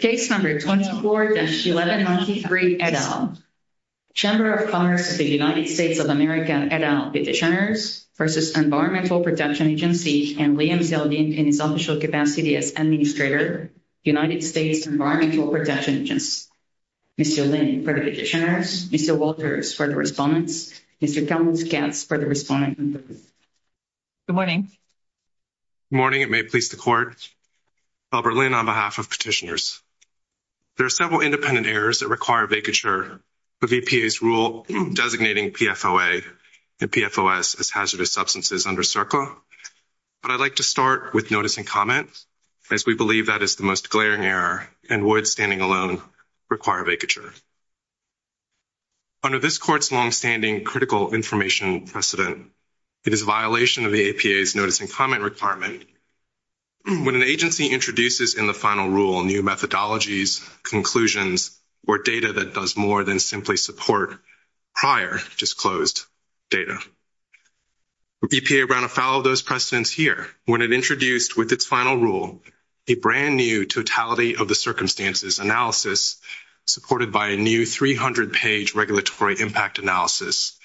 Page 124-1193, et al. Chamber of Commerce of the United States of America, et al. Petitioners v. Environmental Protection Agency, and Liam Dalene, in his official capacity as Administrator, United States Environmental Protection Agency. Mr. Lin, for the petitioners. Mr. Walters, for the respondents. Mr. Collins-Katz, for the respondents. Good morning. Good morning, and may it please the Court. Albert Lin, on behalf of petitioners. There are several independent errors that require vacature, with EPA's rule designating PFOA and PFOS as hazardous substances under CERCLA. But I'd like to start with noticing comments, as we believe that is the most glaring error, and would, standing alone, require vacature. Under this Court's longstanding critical information precedent, it is a violation of the EPA's noticing comment requirement when an agency introduces in the final rule new methodologies, conclusions, or data that does more than simply support prior disclosed data. EPA ran afoul of those precedents here when it introduced, with its final rule, a brand new totality of the circumstances analysis supported by a new 300-page regulatory impact analysis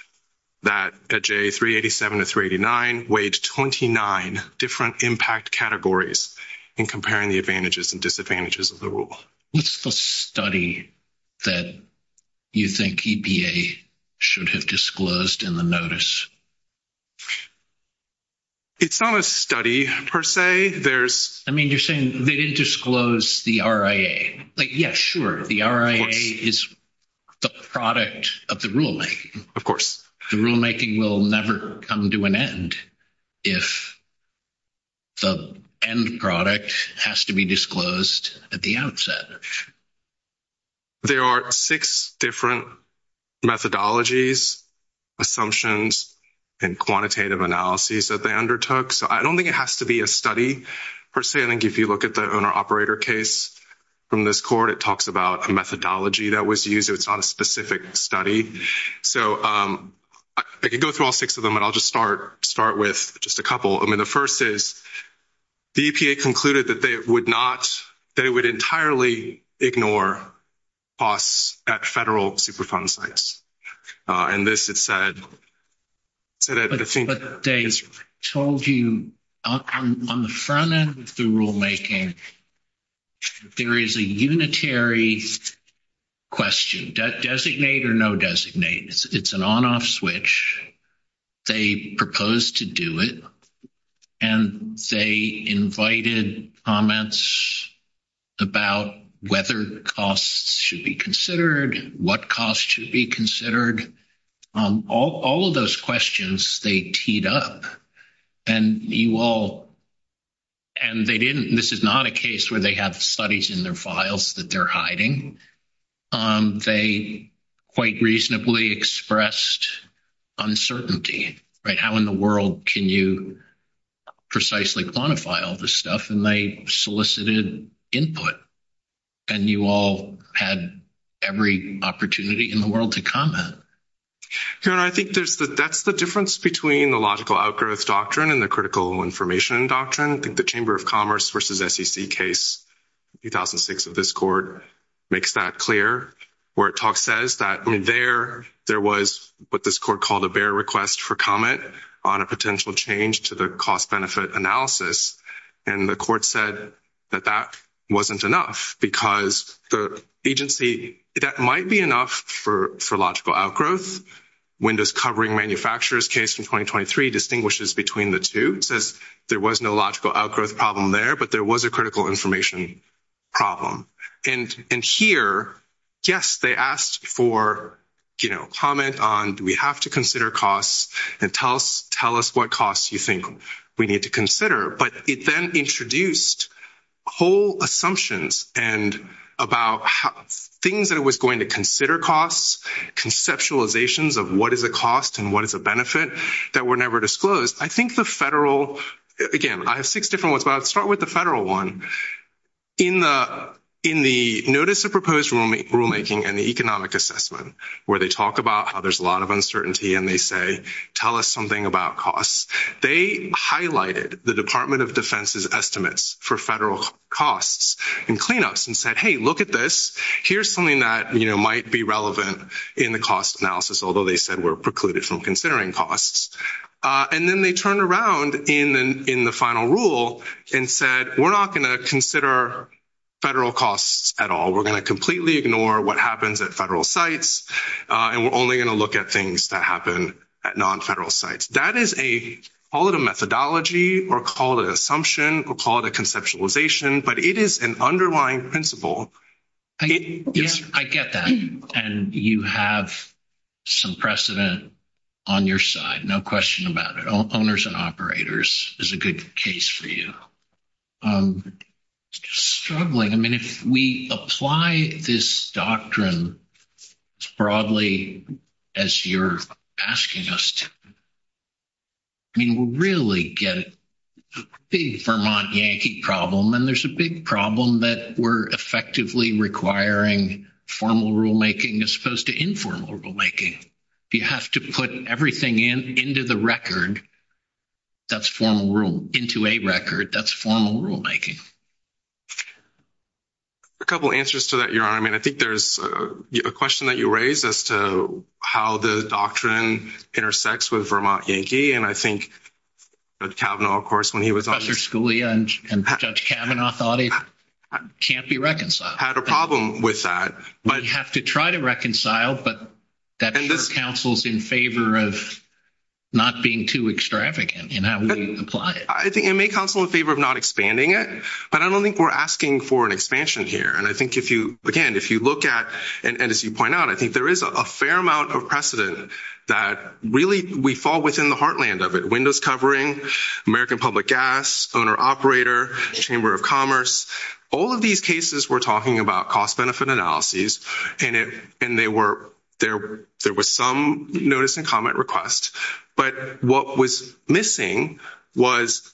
that, at J387 to 389, weighed 29 different impact categories in comparing the advantages and disadvantages of the rule. What's the study that you think EPA should have disclosed in the notice? It's not a study, per se. I mean, you're saying they didn't disclose the RIA. But yeah, sure, the RIA is the product of the ruling. Of course. The rulemaking will never come to an end if the end product has to be disclosed at the outset. There are six different methodologies, assumptions, and quantitative analyses that they undertook. So I don't think it has to be a study, per se. I think if you look at the owner-operator case from this Court, it talks about a methodology that was used. It's not a specific study. So I could go through all six of them, but I'll just start with just a couple. I mean, the first is the EPA concluded that they would entirely ignore costs at federal Superfund sites. In this, it said that it seemed- But they told you, on the front end of the rulemaking, there is a unitary question. Designate or no designate? It's an on-off switch. They proposed to do it, and they invited comments about whether costs should be considered, what costs should be considered. All of those questions, they teed up. And you all- And they didn't- This is not a case where they have studies in their files that they're hiding. They quite reasonably expressed uncertainty. How in the world can you precisely quantify all this stuff? And they solicited input. And you all had every opportunity in the world to comment. I think that's the difference between the logical outgrowth doctrine and the critical information doctrine. I think the Chamber of Commerce versus SEC case, 2006 of this Court, makes that clear where it says that there was what this Court called a bare request for comment on a potential change to the cost-benefit analysis. And the Court said that that wasn't enough because the agency- That might be enough for logical outgrowth when this covering manufacturers case in 2023 distinguishes between the two. It says there was no logical outgrowth problem there, but there was a critical information problem. And here, yes, they asked for comment on, do we have to consider costs? And tell us what costs you think we need to consider. But it then introduced whole assumptions and about things that it was going to consider costs, conceptualizations of what is the cost and what is the benefit that were never disclosed. I think the federal- Again, I have six different ones, but I'll start with the federal one. In the notice of proposed rulemaking and the economic assessment, where they talk about how there's a lot of uncertainty and they say, tell us something about costs. They highlighted the Department of Defense's estimates for federal costs and cleanups and said, hey, look at this. Here's something that might be relevant in the cost analysis, although they said were precluded from considering costs. And then they turned around in the final rule and said, we're not going to consider federal costs at all. We're going to completely ignore what happens at federal sites. And we're only going to look at things that happen at non-federal sites. That is a, call it a methodology or call it an assumption or call it a conceptualization, but it is an underlying principle. Yes, I get that. And you have some precedent on your side. No question about it. Owners and operators is a good case for you. I'm struggling. I mean, if we apply this doctrine broadly as you're asking us to, I mean, we'll really get a big Vermont Yankee problem. And there's a big problem that we're effectively requiring formal rulemaking as opposed to informal rulemaking. You have to put everything into the record. That's formal rule into a record. That's formal rulemaking. A couple of answers to that, Your Honor. I mean, I think there's a question that you raised as to how the doctrine intersects with Vermont Yankee. And I think that Kavanaugh, of course, when he was on- Professor Scalia and Judge Kavanaugh thought it can't be reconciled. Had a problem with that. But you have to try to reconcile, but that counsels in favor of not being too extravagant in how we apply it. I think it may counsel in favor of not expanding it, but I don't think we're asking for an expansion here. And I think if you, again, if you look at, and as you point out, I think there is a fair amount of precedent that really we fall within the heartland of it. Windows covering, American Public Gas, owner-operator, Chamber of Commerce, all of these cases we're talking about cost-benefit analyses, and there was some notice and comment requests. But what was missing was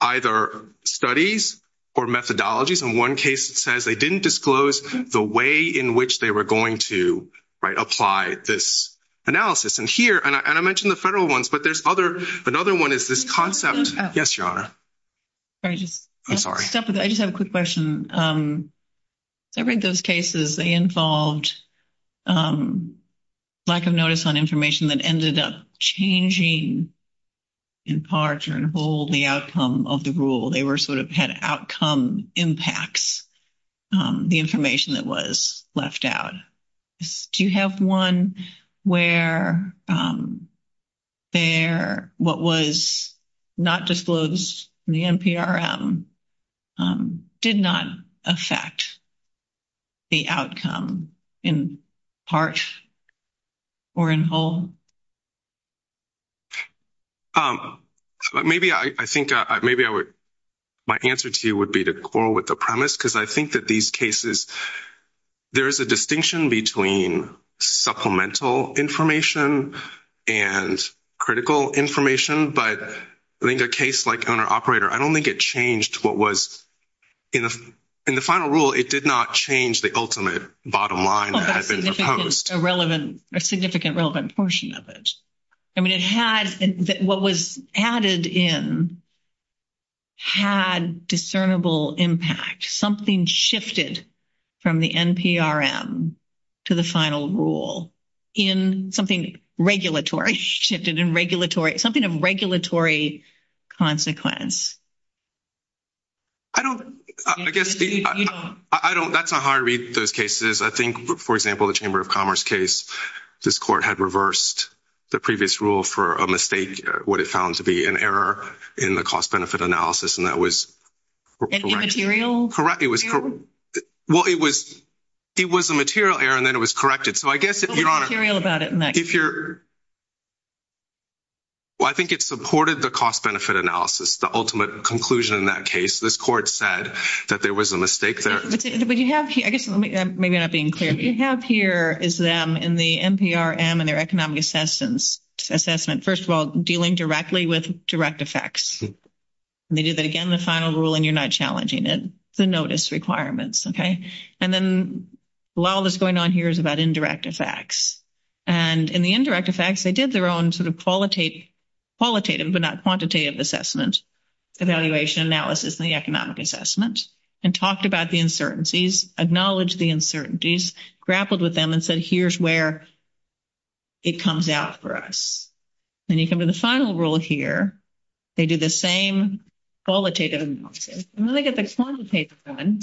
either studies or methodologies. In one case, it says they didn't disclose the way in which they were going to apply this analysis. And here, and I mentioned the federal ones, but there's other, another one is this concept. Yes, Your Honor. I'm sorry. I just have a quick question. Every of those cases, they involved a lack of notice on information that ended up changing in part or in whole the outcome of the rule. They were sort of had outcome impacts, the information that was left out. Do you have one where there, what was not disclosed in the NPRM did not affect the outcome in parts or in whole? Maybe I think, maybe I would, my answer to you would be to quarrel with the premise because I think that these cases, there is a distinction between supplemental information and critical information, but in a case like owner-operator, I don't think it changed what was, in the final rule, it did not change the ultimate bottom line that had been proposed. A relevant, a significant relevant portion of it. I mean, it had, what was added in had discernible impact. Something shifted from the NPRM to the final rule in something regulatory, shifted in regulatory, something of regulatory consequence. I don't, I guess, I don't, that's a hard read those cases. I think, for example, the Chamber of Commerce case, this court had reversed the previous rule for a mistake, what it found to be an error in the cost benefit analysis. And that was. Correct, it was, well, it was, it was a material error and then it was corrected. So I guess that you are. What's the material about it, Max? If you're. Well, I think it supported the cost benefit analysis, the ultimate conclusion in that case. This court said that there was a mistake there. But you have, I guess, maybe I'm not being clear, but you have here is them in the NPRM and their economic assessment, first of all, dealing directly with direct effects. They did that again in the final rule and you're not challenging it, the notice requirements, okay? And then a lot of what's going on here is about indirect effects. And in the indirect effects, they did their own sort of qualitative, but not quantitative assessment, evaluation analysis and the economic assessment and talked about the uncertainties, acknowledged the uncertainties, grappled with them and said, here's where it comes out for us. And you come to the final rule here, they do the same qualitative analysis. And when they get the quantitative done,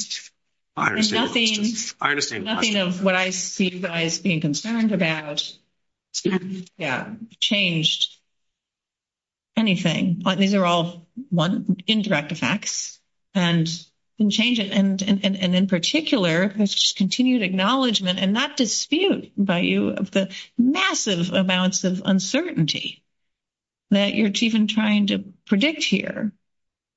there's nothing of what I see you guys being concerned about changed anything. These are all one indirect effects and changes. And in particular, this continued acknowledgement and not dispute by you of the massive amounts of uncertainty that you're even trying to predict here.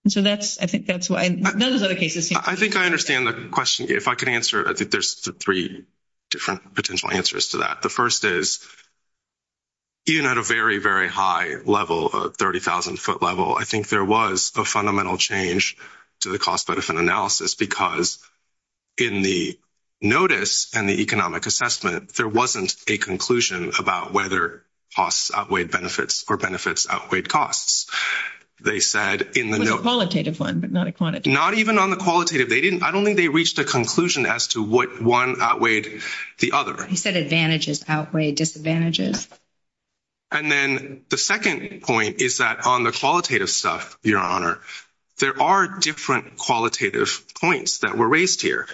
And so that's, I think that's why those are the cases. I think I understand the question. If I could answer, I think there's three different potential answers to that. The first is, even at a very, very high level, a 30,000 foot level, I think there was a fundamental change to the cost benefit analysis because in the notice and the economic assessment, there wasn't a conclusion about whether costs outweighed benefits or benefits outweighed costs. They said in the- Qualitative one, but not quantitative. Not even on the qualitative, I don't think they reached a conclusion as to what one outweighed the other. He said advantages outweigh disadvantages. And then the second point is that on the qualitative stuff, your honor, there are different qualitative points that were raised here.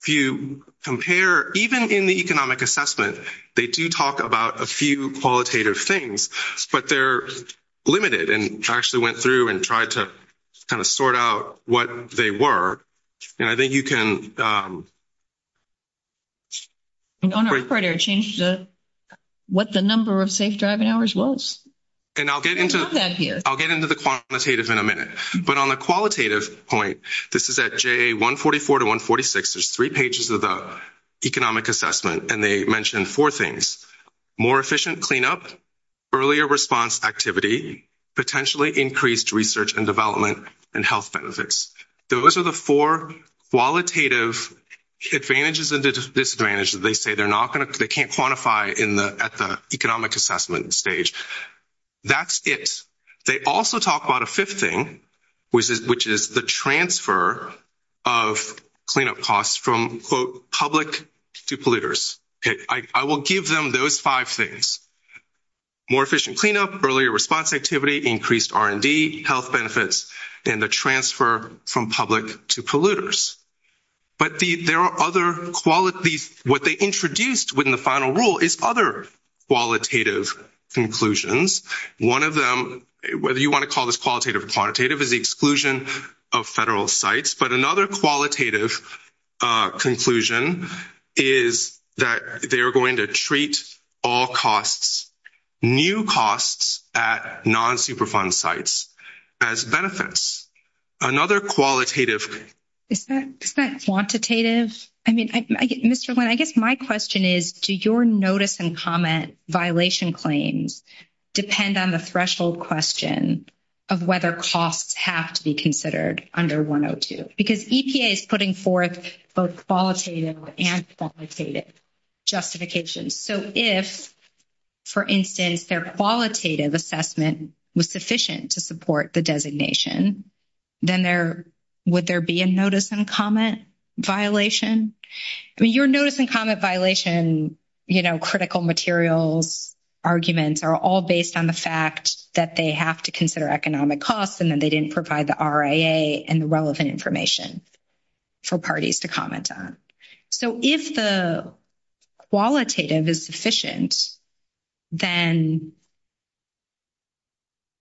If you compare, even in the economic assessment, they do talk about a few qualitative things, but they're limited and actually went through and tried to kind of sort out what they were. And I think you can- Honor, I'm afraid I changed what the number of safe driving hours was. And I'll get into the quantitative in a minute. But on the qualitative point, this is at JA 144 to 146, there's three pages of the economic assessment. And they mentioned four things, more efficient cleanup, earlier response activity, potentially increased research and development and health benefits. Those are the four qualitative advantages and disadvantages. They say they can't quantify at the economic assessment stage. That's it. They also talk about a fifth thing, which is the transfer of cleanup costs from quote, public to polluters. I will give them those five things. More efficient cleanup, earlier response activity, increased R&D, health benefits, and the transfer from public to polluters. But there are other qualities, what they introduced within the final rule is other qualitative conclusions. One of them, whether you wanna call this qualitative or quantitative is the exclusion of federal sites. But another qualitative conclusion is that they are going to treat all costs, new costs at non-superfund sites as benefits. Another qualitative. Is that quantitative? I mean, Mr. Lin, I guess my question is, do your notice and comment violation claims depend on the threshold question of whether costs have to be considered under 102? Because EPA is putting forth both qualitative and qualitative justifications. So if, for instance, their qualitative assessment was sufficient to support the designation, then would there be a notice and comment violation? I mean, your notice and comment violation, you know, critical materials, arguments are all based on the fact that they have to consider economic costs and then they didn't provide the RIA and the relevant information for parties to comment on. So if the qualitative is sufficient, then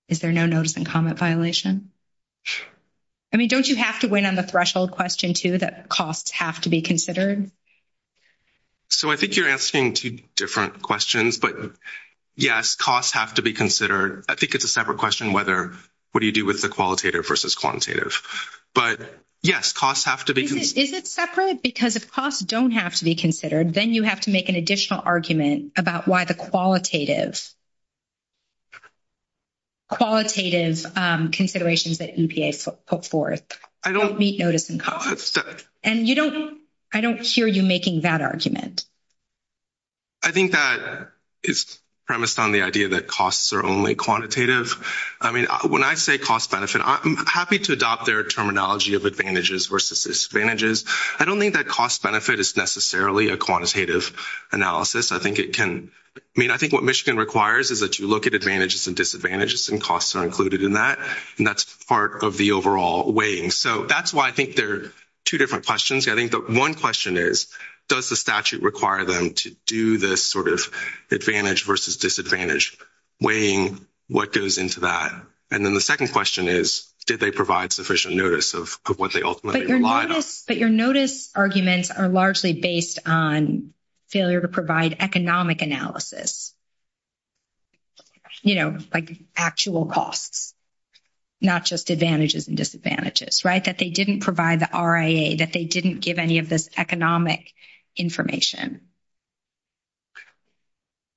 is there no notice and comment violation? I mean, don't you have to win on the threshold question too that costs have to be considered? So I think you're asking two different questions, but yes, costs have to be considered. I think it's a separate question whether, what do you do with the qualitative versus quantitative? But yes, costs have to be considered. Is it separate? Because if costs don't have to be considered, then you have to make an additional argument about why the qualitative, qualitative considerations that NPA put forth don't meet notice and comments. And you don't, I don't hear you making that argument. I think that it's premised on the idea that costs are only quantitative. I mean, when I say cost-benefit, I'm happy to adopt their terminology of advantages versus disadvantages. I don't think that cost-benefit is necessarily a quantitative analysis. I mean, I think what Michigan requires is that you look at advantages and disadvantages and costs are included in that. And that's part of the overall weighing. So that's why I think they're two different questions. I think the one question is, does the statute require them to do this sort of advantage versus disadvantage weighing what goes into that? And then the second question is, did they provide sufficient notice of what they ultimately relied on? But your notice arguments are largely based on failure to provide economic analysis, like actual costs, not just advantages and disadvantages, right, that they didn't provide the RIA, that they didn't give any of this economic information.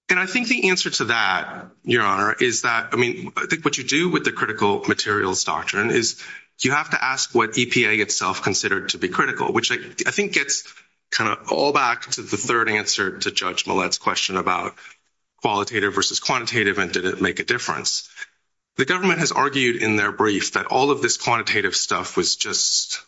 And I think the answer to that, Your Honor, is that, I mean, I think what you do with the critical materials doctrine is you have to ask what EPA itself considered to be critical, which I think gets kind of all back to the third answer to Judge Millett's question about qualitative versus quantitative and did it make a difference? The government has argued in their brief that all of this quantitative stuff was just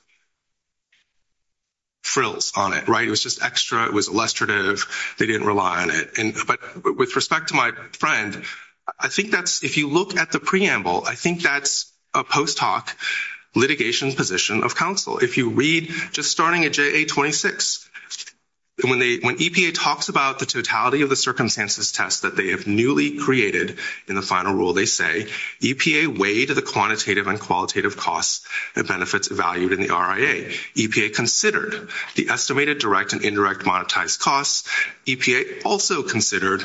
frills on it, right? It was just extra, it was illustrative, they didn't rely on it. But with respect to my friend, I think that's, if you look at the preamble, I think that's a post hoc litigation position of counsel. If you read, just starting at JA-26, when EPA talks about the totality of the circumstances test that they have newly created in the final rule, they say, EPA weighed the quantitative and qualitative costs and benefits valued in the RIA. EPA considered the estimated direct and indirect monetized costs. EPA also considered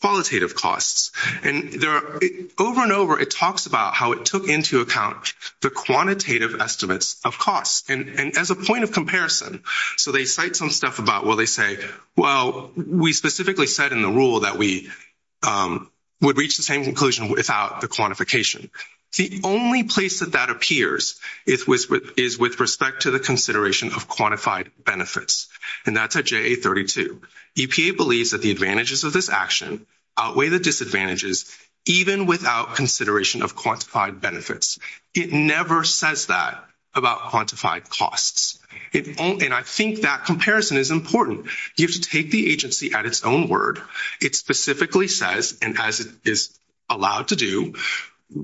qualitative costs. And there are, over and over, it talks about how it took into account the quantitative estimates of costs and as a point of comparison, so they cite some stuff about, well, they say, well, we specifically said in the rule that we would reach the same conclusion without the quantification. The only place that that appears is with respect to the consideration of quantified benefits. And that's at JA-32. EPA believes that the advantages of this action outweigh the disadvantages, even without consideration of quantified benefits. It never says that about quantified costs. It only, and I think that comparison is important. You have to take the agency at its own word. It specifically says, and as it is allowed to do,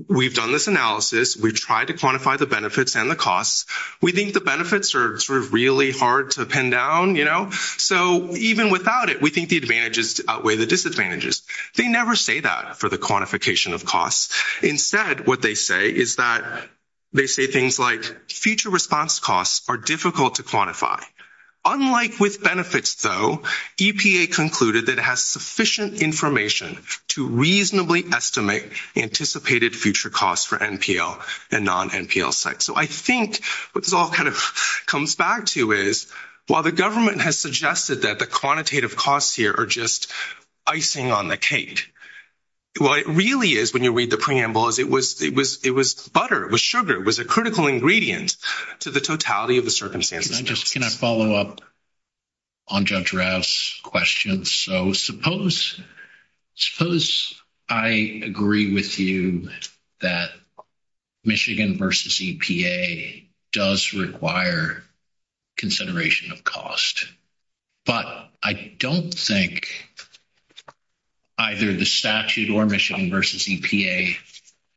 we've done this analysis, we've tried to quantify the benefits and the costs. We think the benefits are sort of really hard to pin down. So even without it, we think the advantages outweigh the disadvantages. They never say that for the quantification of costs. Instead, what they say is that, they say things like future response costs are difficult to quantify. Unlike with benefits though, EPA concluded that it has sufficient information to reasonably estimate anticipated future costs for NPL and non-NPL sites. So I think what this all kind of comes back to is, while the government has suggested that the quantitative costs here are just icing on the cake, what it really is when you read the preamble is it was butter, it was sugar, it was a critical ingredient to the totality of the circumstances. Can I follow up on Judge Rouse's question? So suppose I agree with you that Michigan versus EPA does require consideration of cost, but I don't think either the statute or Michigan versus EPA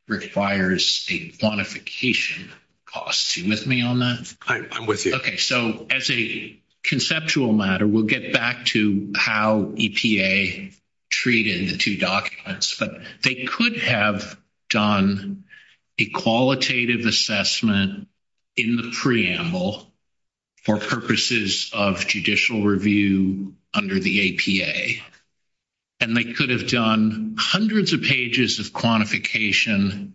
requires a quantification cost. You with me on that? I'm with you. Okay, so as a conceptual matter, we'll get back to how EPA treated the two documents, but they could have done a qualitative assessment in the preamble for purposes of judicial review under the APA, and they could have done hundreds of pages of quantification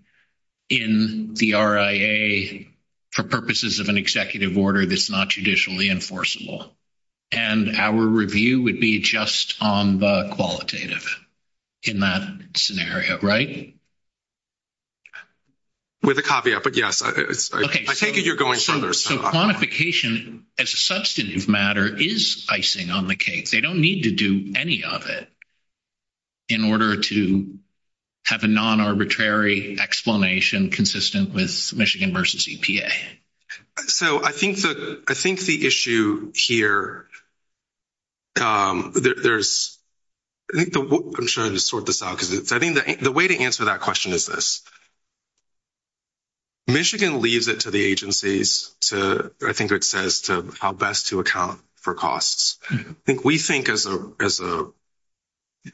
in the RIA for purposes of an executive order that's not judicially enforceable. And our review would be just on the qualitative in that scenario, right? With a caveat, but yes, I take it you're going from there. So quantification as a substantive matter is icing on the cake. They don't need to do any of it in order to have a non-arbitrary explanation consistent with Michigan versus EPA. So I think the issue here, there's, I'm trying to sort this out, because I think the way to answer that question is this. Michigan leaves it to the agencies to, I think it says to how best to account for costs. I think we think as a,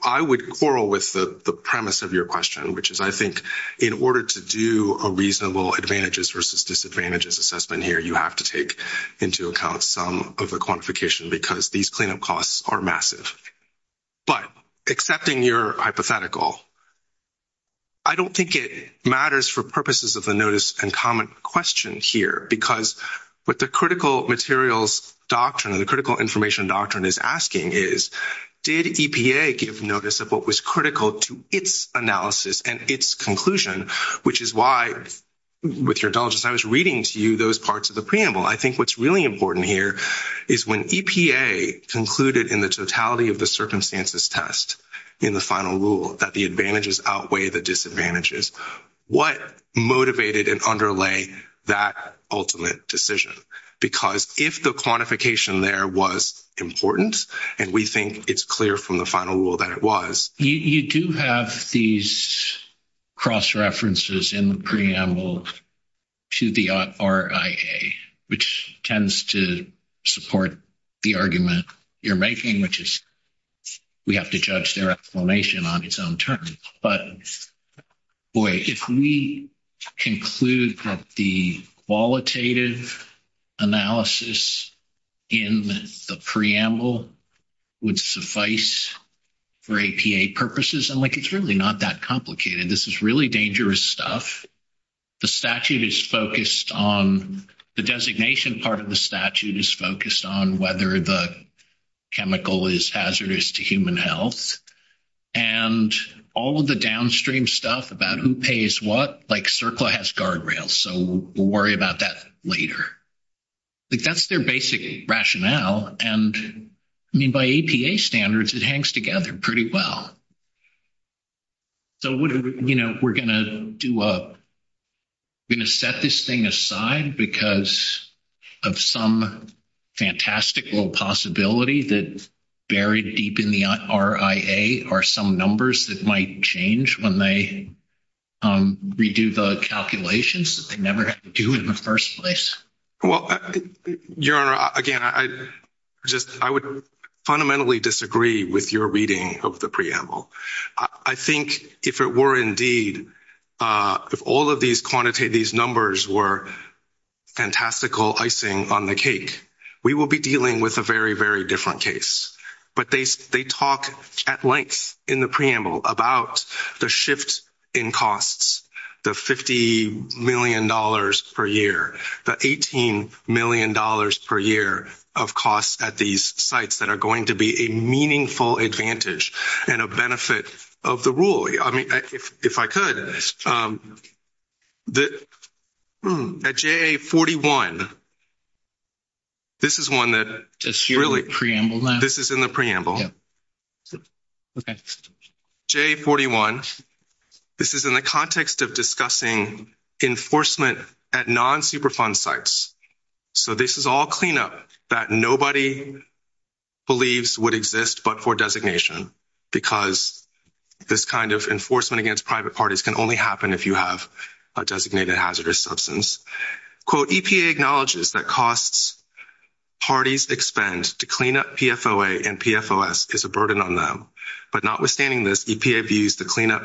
I would quarrel with the premise of your question, which is I think in order to do a reasonable advantages versus disadvantages assessment here, you have to take into account some of the quantification because these cleanup costs are massive. But accepting your hypothetical, I don't think it matters for purposes of a notice and comment question here, because what the critical materials doctrine, the critical information doctrine is asking is, did EPA give notice of what was critical to its analysis and its conclusion, which is why with your indulgence, I was reading to you those parts of the preamble. I think what's really important here is when EPA concluded in the totality of the circumstances test in the final rule that the advantages outweigh the disadvantages, what motivated and underlay that ultimate decision? Because if the quantification there was important, and we think it's clear from the final rule that it was. You do have these cross-references in the preamble to the RIA, which tends to support the argument you're making, which is we have to judge their explanation on its own terms. But boy, if we conclude that the qualitative analysis in the preamble would suffice for EPA purposes, and like, it's really not that complicated. This is really dangerous stuff. The statute is focused on, the designation part of the statute is focused on whether the chemical is hazardous to human health. And all of the downstream stuff about who pays what, like CERCLA has guardrails. So we'll worry about that later. Like that's their basic rationale. And I mean, by EPA standards, it hangs together pretty well. So we're gonna set this thing aside because of some fantastical possibility that buried deep in the RIA are some numbers that might change when they redo the calculations that they never had to do in the first place. Well, Your Honor, again, I would fundamentally disagree with your reading of the preamble. I think if it were indeed, if all of these quantitative, these numbers were fantastical icing on the cake, we will be dealing with a very, very different case. But they talk at length in the preamble about the shift in costs, the $50 million per year, the $18 million per year of costs at these sites that are going to be a meaningful advantage and a benefit of the rule. I mean, if I could, at JA-41, this is one that really, this is in the preamble. JA-41, this is in the context of discussing enforcement at non-superfund sites. So this is all cleanup that nobody believes would exist, but for designation, because this kind of enforcement against private parties can only happen if you have a designated hazardous substance. Quote, EPA acknowledges that costs, parties' expense to clean up PFOA and PFOS is a burden on them. But notwithstanding this, EPA views the cleanup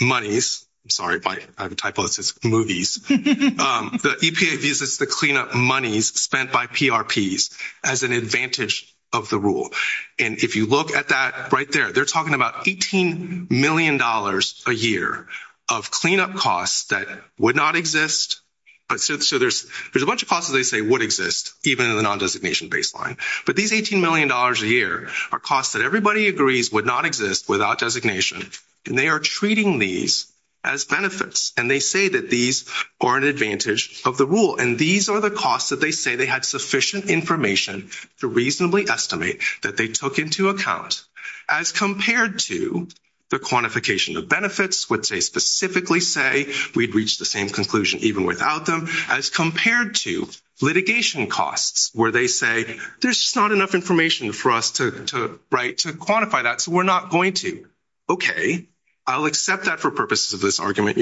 monies, sorry, I have a typo, it says movies, the EPA views the cleanup monies spent by PRPs as an advantage of the rule. And if you look at that right there, they're talking about $18 million a year of cleanup costs that would not exist. But so there's a bunch of costs that they say would exist even in the non-designation baseline. But these $18 million a year are costs that everybody agrees would not exist without designation, and they are treating these as benefits. And they say that these are an advantage of the rule. And these are the costs that they say they had sufficient information to reasonably estimate that they took into account as compared to the quantification of benefits, which they specifically say we'd reach the same conclusion even without them, as compared to litigation costs, where they say there's not enough information for us to write to quantify that, so we're not going to. Okay, I'll accept that for purposes of this argument,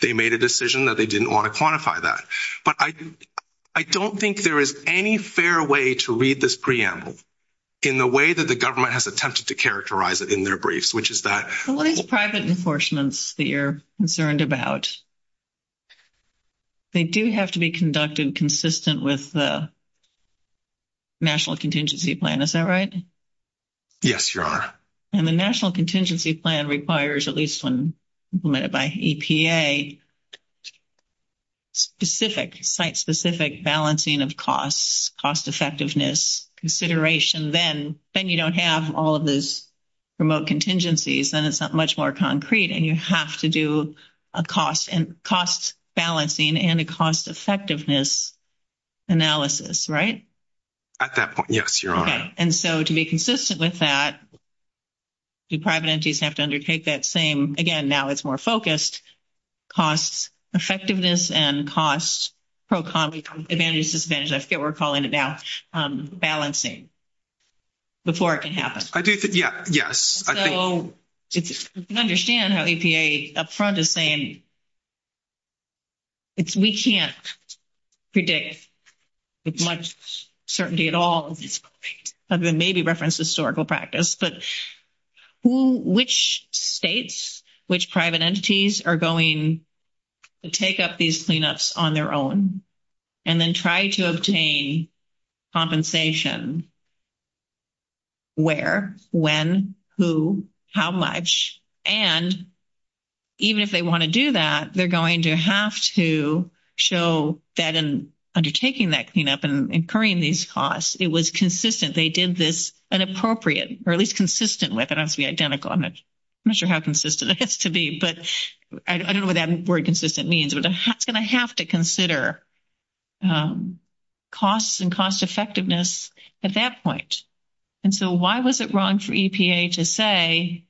they made a decision that they didn't want to quantify that. But I don't think there is any fair way to read this preamble in the way that the government has attempted to characterize it in their briefs, which is that- The legal private enforcements that you're concerned about, they do have to be conducted consistent with the National Contingency Plan, is that right? Yes, Your Honor. And the National Contingency Plan requires at least when implemented by EPA, specific, site-specific balancing of costs, cost-effectiveness consideration, then you don't have all of those remote contingencies, then it's not much more concrete and you have to do a cost balancing and a cost-effectiveness analysis, right? At that point, yes, Your Honor. And so to be consistent with that, the private entities have to undertake that same, again, now it's more focused, cost-effectiveness and costs, pro-competitive advantage, disadvantage, I forget what we're calling it now, balancing, before it can happen. Yeah, yes, I think- So you can understand how EPA up front is saying, we can't predict with much certainty at all, other than maybe reference historical practice, but which states, which private entities are going to take up these cleanups on their own and then try to obtain compensation, where, when, who, how much, and even if they wanna do that, they're going to have to show that in undertaking that cleanup and incurring these costs. It was consistent, they did this, and appropriate, or at least consistent with, I don't have to be identical, I'm not sure how consistent it has to be, but I don't know what that word consistent means, but it's gonna have to consider costs and cost-effectiveness at that point. And so why was it wrong for EPA to say,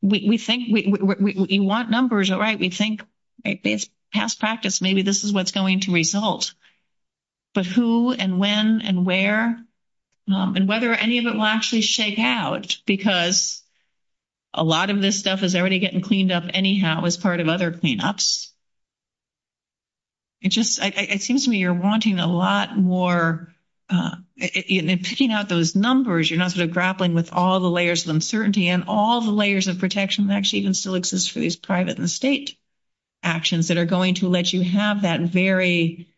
we think, you want numbers, all right, we think based past practice, maybe this is what's going to result, but who and when and where, and whether any of it will actually shake out, because a lot of this stuff is already getting cleaned up anyhow as part of other cleanups. It just, it seems to me you're wanting a lot more, picking out those numbers, you're not sort of grappling with all the layers of uncertainty and all the layers of protection that actually even still exists for these private and state actions that are going to let you have that very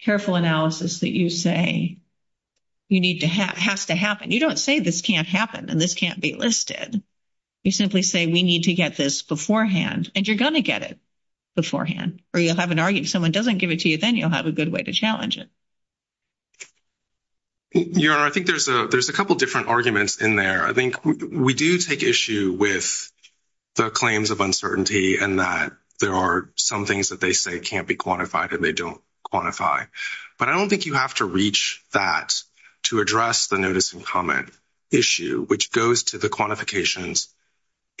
careful analysis that you say you need to have, has to happen. You don't say this can't happen and this can't be listed. You simply say, we need to get this beforehand, and you're gonna get it beforehand, or you'll have an argument, if someone doesn't give it to you, then you'll have a good way to challenge it. Yeah, I think there's a couple different arguments in there. I think we do take issue with the claims of uncertainty and that there are some things that they say can't be quantified and they don't quantify, but I don't think you have to reach that to address the notice and comment issue, which goes to the quantifications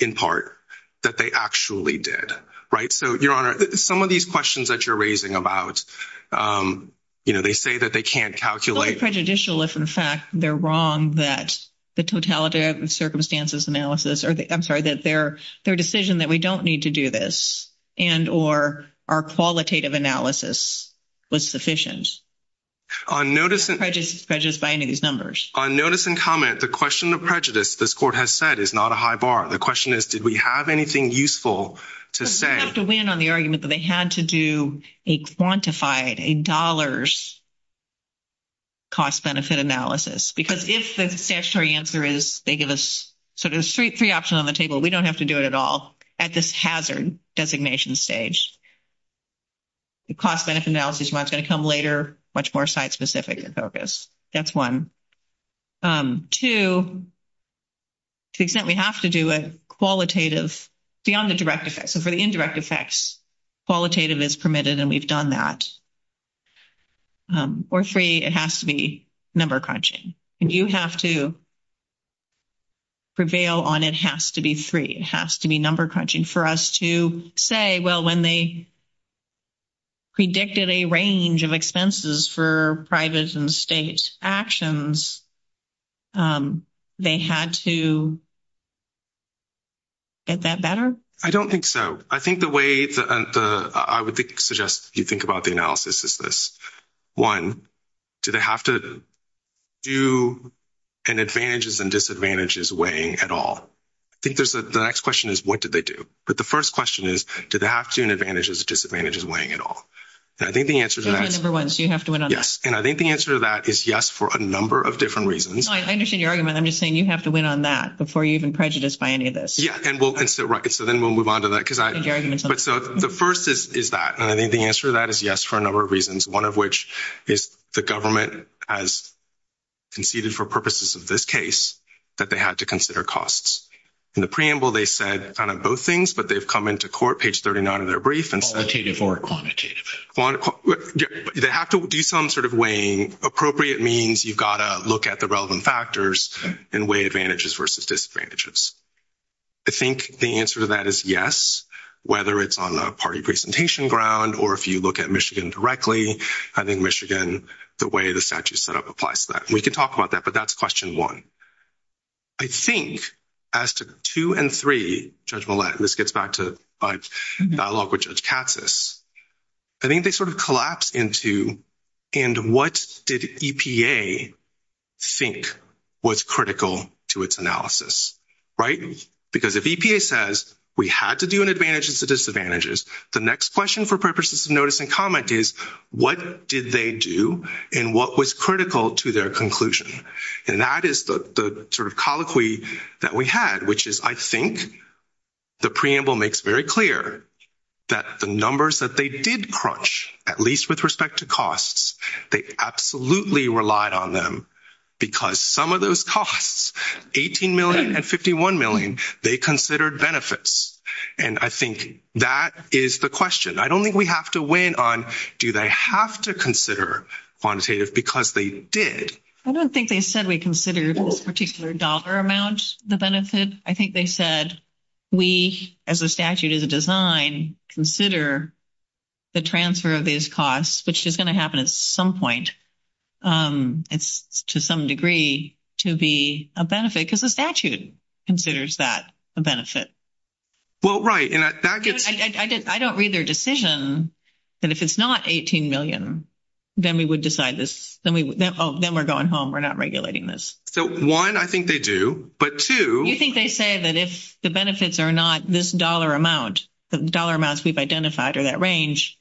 in part that they actually did, right? So Your Honor, some of these questions that you're raising about, they say that they can't calculate- It's prejudicial if in fact they're wrong that the totality of the circumstances analysis, I'm sorry, that their decision that we don't need to do this and or our qualitative analysis was sufficient. On notice- Prejudice by any of these numbers. On notice and comment, the question of prejudice this court has said is not a high bar. The question is, did we have anything useful to say- They have to win on the argument that they had to do a quantified, a dollars cost benefit analysis, because if the statutory answer is, they give us sort of three options on the table, we don't have to do it at all at this hazard designation stage. The cost benefit analysis is what's gonna come later, much more site-specific in focus. That's one. Two, to the extent we have to do a qualitative, beyond the direct effects, and for the indirect effects, qualitative is permitted and we've done that. Or three, it has to be number crunching. You have to prevail on it has to be three, it has to be number crunching for us to say, well, when they predicted a range of expenses for privates and state actions, they had to get that better? I don't think so. I think the way I would suggest you think about the analysis is this. One, do they have to do an advantages and disadvantages weighing at all? I think the next question is, what did they do? But the first question is, did they have to do an advantages or disadvantages weighing at all? And I think the answer to that- Number one, so you have to win on that? Yes, and I think the answer to that is yes for a number of different reasons. I understand your argument, I'm just saying you have to win on that before you're even prejudiced by any of this. Yeah, and so then we'll move on to that, because the first is that, and I think the answer to that is yes for a number of reasons, one of which is the government has conceded for purposes of this case that they had to consider costs. In the preamble, they said kind of both things, but they've come into court, page 39 of their brief, and said- Quantitative or quantitative? Quantitative, they have to do some sort of weighing. Appropriate means you've got to look at the relevant factors and weigh advantages versus disadvantages. I think the answer to that is yes, whether it's on a party presentation ground, or if you look at Michigan directly, I think Michigan, the way the statute's set up applies to that. We can talk about that, but that's question one. I think as to two and three, Judge Millett, and this gets back to my dialogue with Judge Katsas, I think they sort of collapse into, and what did EPA think was critical to its analysis, right? Because if EPA says, we had to do an advantages to disadvantages, the next question for purposes of notice and comment is, what did they do and what was critical to their conclusion? And that is the sort of colloquy that we had, which is, I think the preamble makes very clear that the numbers that they did crunch, at least with respect to costs, they absolutely relied on them because some of those costs, 18 million and 51 million, they considered benefits. And I think that is the question. I don't think we have to weigh in on, do they have to consider quantitative because they did. I don't think they said we considered a particular dollar amount, the benefits. I think they said, we, as the statute of the design, consider the transfer of these costs, which is gonna happen at some point. It's to some degree to be a benefit because the statute considers that a benefit. Well, right. I don't read their decision that if it's not 18 million, then we would decide this. Then we're going home. We're not regulating this. So one, I think they do, but two. You think they say that if the benefits are not this dollar amount, the dollar amounts we've identified or that range,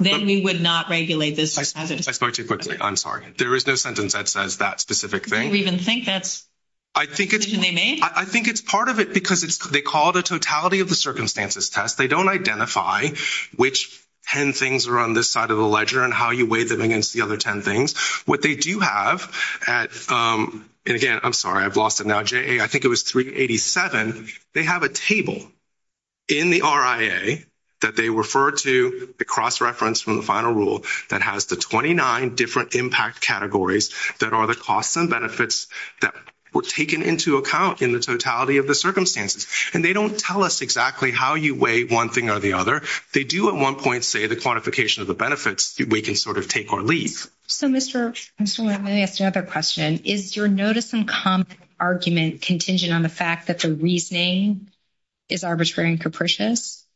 then we would not regulate this by statute. I'm sorry. There is no sentence that says that specific thing. I don't even think that's. I think it's part of it because they call the totality of the circumstances test. They don't identify which 10 things are on this side of the ledger and how you weigh them against the other 10 things. What they do have at, and again, I'm sorry. I've lost it now. JA, I think it was 387. They have a table in the RIA that they refer to the cross-reference from the final rule that has the 29 different impact categories that are the costs and benefits that were taken into account in the totality of the circumstances. And they don't tell us exactly how you weigh one thing or the other. They do at one point say the quantification of the benefits that we can sort of take or leave. So Mr. O'Malley, I have another question. Is your notice and comment argument contingent on the fact that the reasoning is arbitrary and capricious?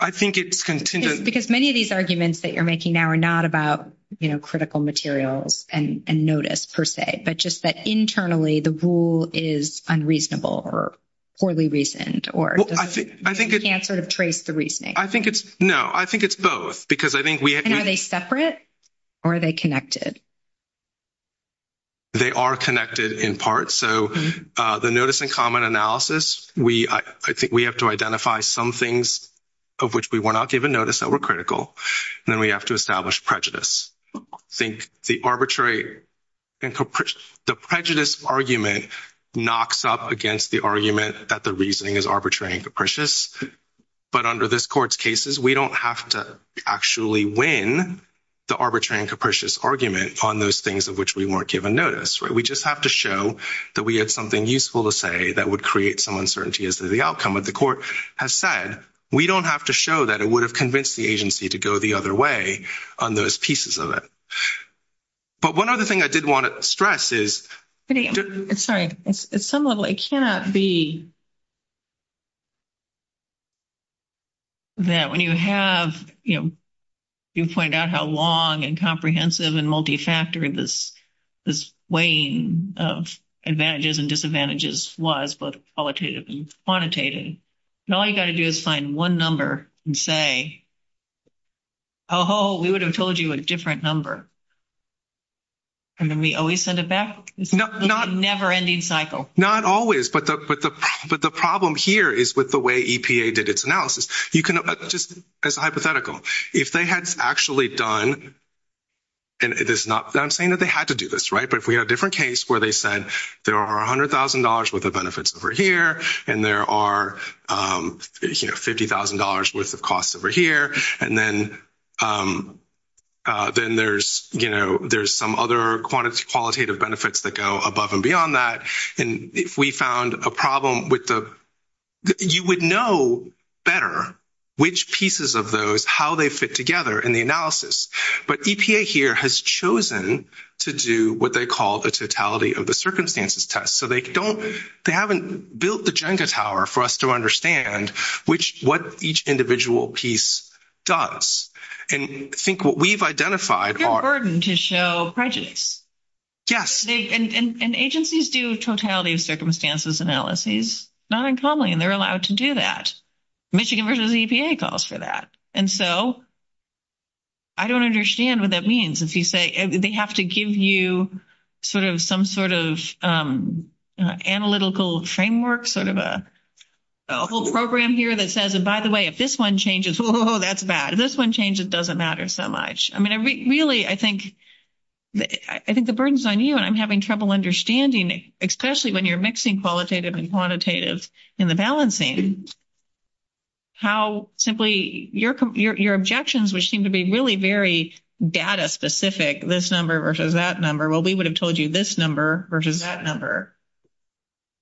I think it's contingent. Because many of these arguments that you're making now are not about critical materials and notice per se, but just that internally the rule is unreasonable or poorly reasoned or you can't sort of trace the reasoning. I think it's, no, I think it's both because I think we have to- And are they separate or are they connected? They are connected in part. So the notice and comment analysis, we have to identify some things of which we were not given notice that were critical. And then we have to establish prejudice. I think the arbitrary and capricious, the prejudice argument knocks up against the argument that the reasoning is arbitrary and capricious. But under this court's cases, we don't have to actually win the arbitrary and capricious argument on those things of which we weren't given notice, right? We just have to show that we had something useful to say that would create some uncertainty as to the outcome. But the court has said, we don't have to show that it would have convinced the agency to go the other way on those pieces of it. But one other thing I did want to stress is- Sorry, at some level, it cannot be that when you have, you know, you pointed out how long and comprehensive and multi-factor this weighing of advantages and disadvantages was both qualitative and quantitative. And all you got to do is find one number and say, oh, we would have told you a different number. And then we always send it back. It's a never-ending cycle. Not always, but the problem here is with the way EPA did its analysis. You can just, it's hypothetical. If they had actually done, and I'm saying that they had to do this, right? But if we had a different case where they said, there are $100,000 worth of benefits over here, and there are $50,000 worth of costs over here, and then there's some other quantitative benefits that go above and beyond that. And if we found a problem with the, you would know better which pieces of those, how they fit together in the analysis. But EPA here has chosen to do what they call the totality of the circumstances test. So they don't, they haven't built the agenda tower for us to understand what each individual piece does. And I think what we've identified are- It's a burden to show prejudice. Yes. And agencies do totality of circumstances analysis, not uncommonly, and they're allowed to do that. Michigan versus EPA calls for that. And so I don't understand what that means. If you say, they have to give you sort of some sort of analytical framework, sort of a program here that says, and by the way, if this one changes, oh, that's bad. If this one changes, it doesn't matter so much. I mean, really, I think the burden's on you, and I'm having trouble understanding, especially when you're mixing qualitative and quantitative in the balancing, how simply your objections, which seem to be really very data specific, this number versus that number, well, we would have told you this number versus that number,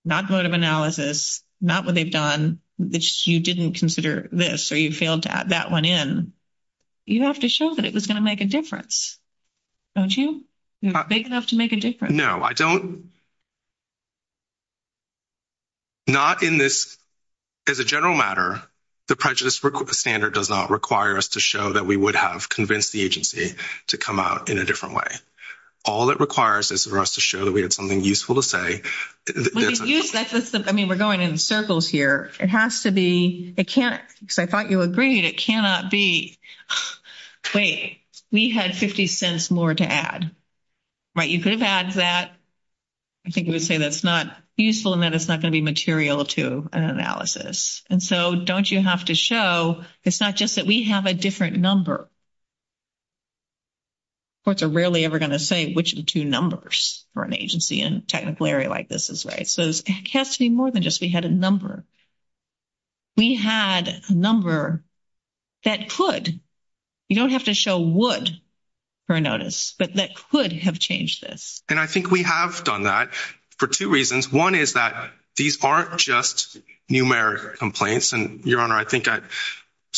not go to analysis, not what they've done, which you didn't consider this, or you failed to add that one in. You have to show that it was gonna make a difference. Don't you? You're not big enough to make a difference. No, I don't. Not in this, as a general matter, the prejudice standard does not require us to show that we would have convinced the agency to come out in a different way. All it requires is for us to show that we have something useful to say. I mean, we're going in circles here. It has to be, because I thought you agreed, it cannot be, wait, we had 50 cents more to add, right? You could have added that. I think you would say that's not useful and that it's not gonna be material to an analysis. And so don't you have to show, it's not just that we have a different number. Courts are rarely ever gonna say which of the two numbers for an agency in a technical area like this is right. So it has to be more than just, we had a number. We had a number that could, you don't have to show would for a notice, but that could have changed this. And I think we have done that for two reasons. One is that these aren't just numeric complaints. And your honor, I think I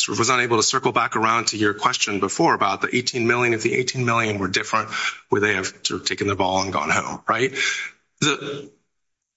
was unable to circle back around to your question about the number. I think I mentioned before about the 18 million and the 18 million were different where they have taken the ball and gone home, right?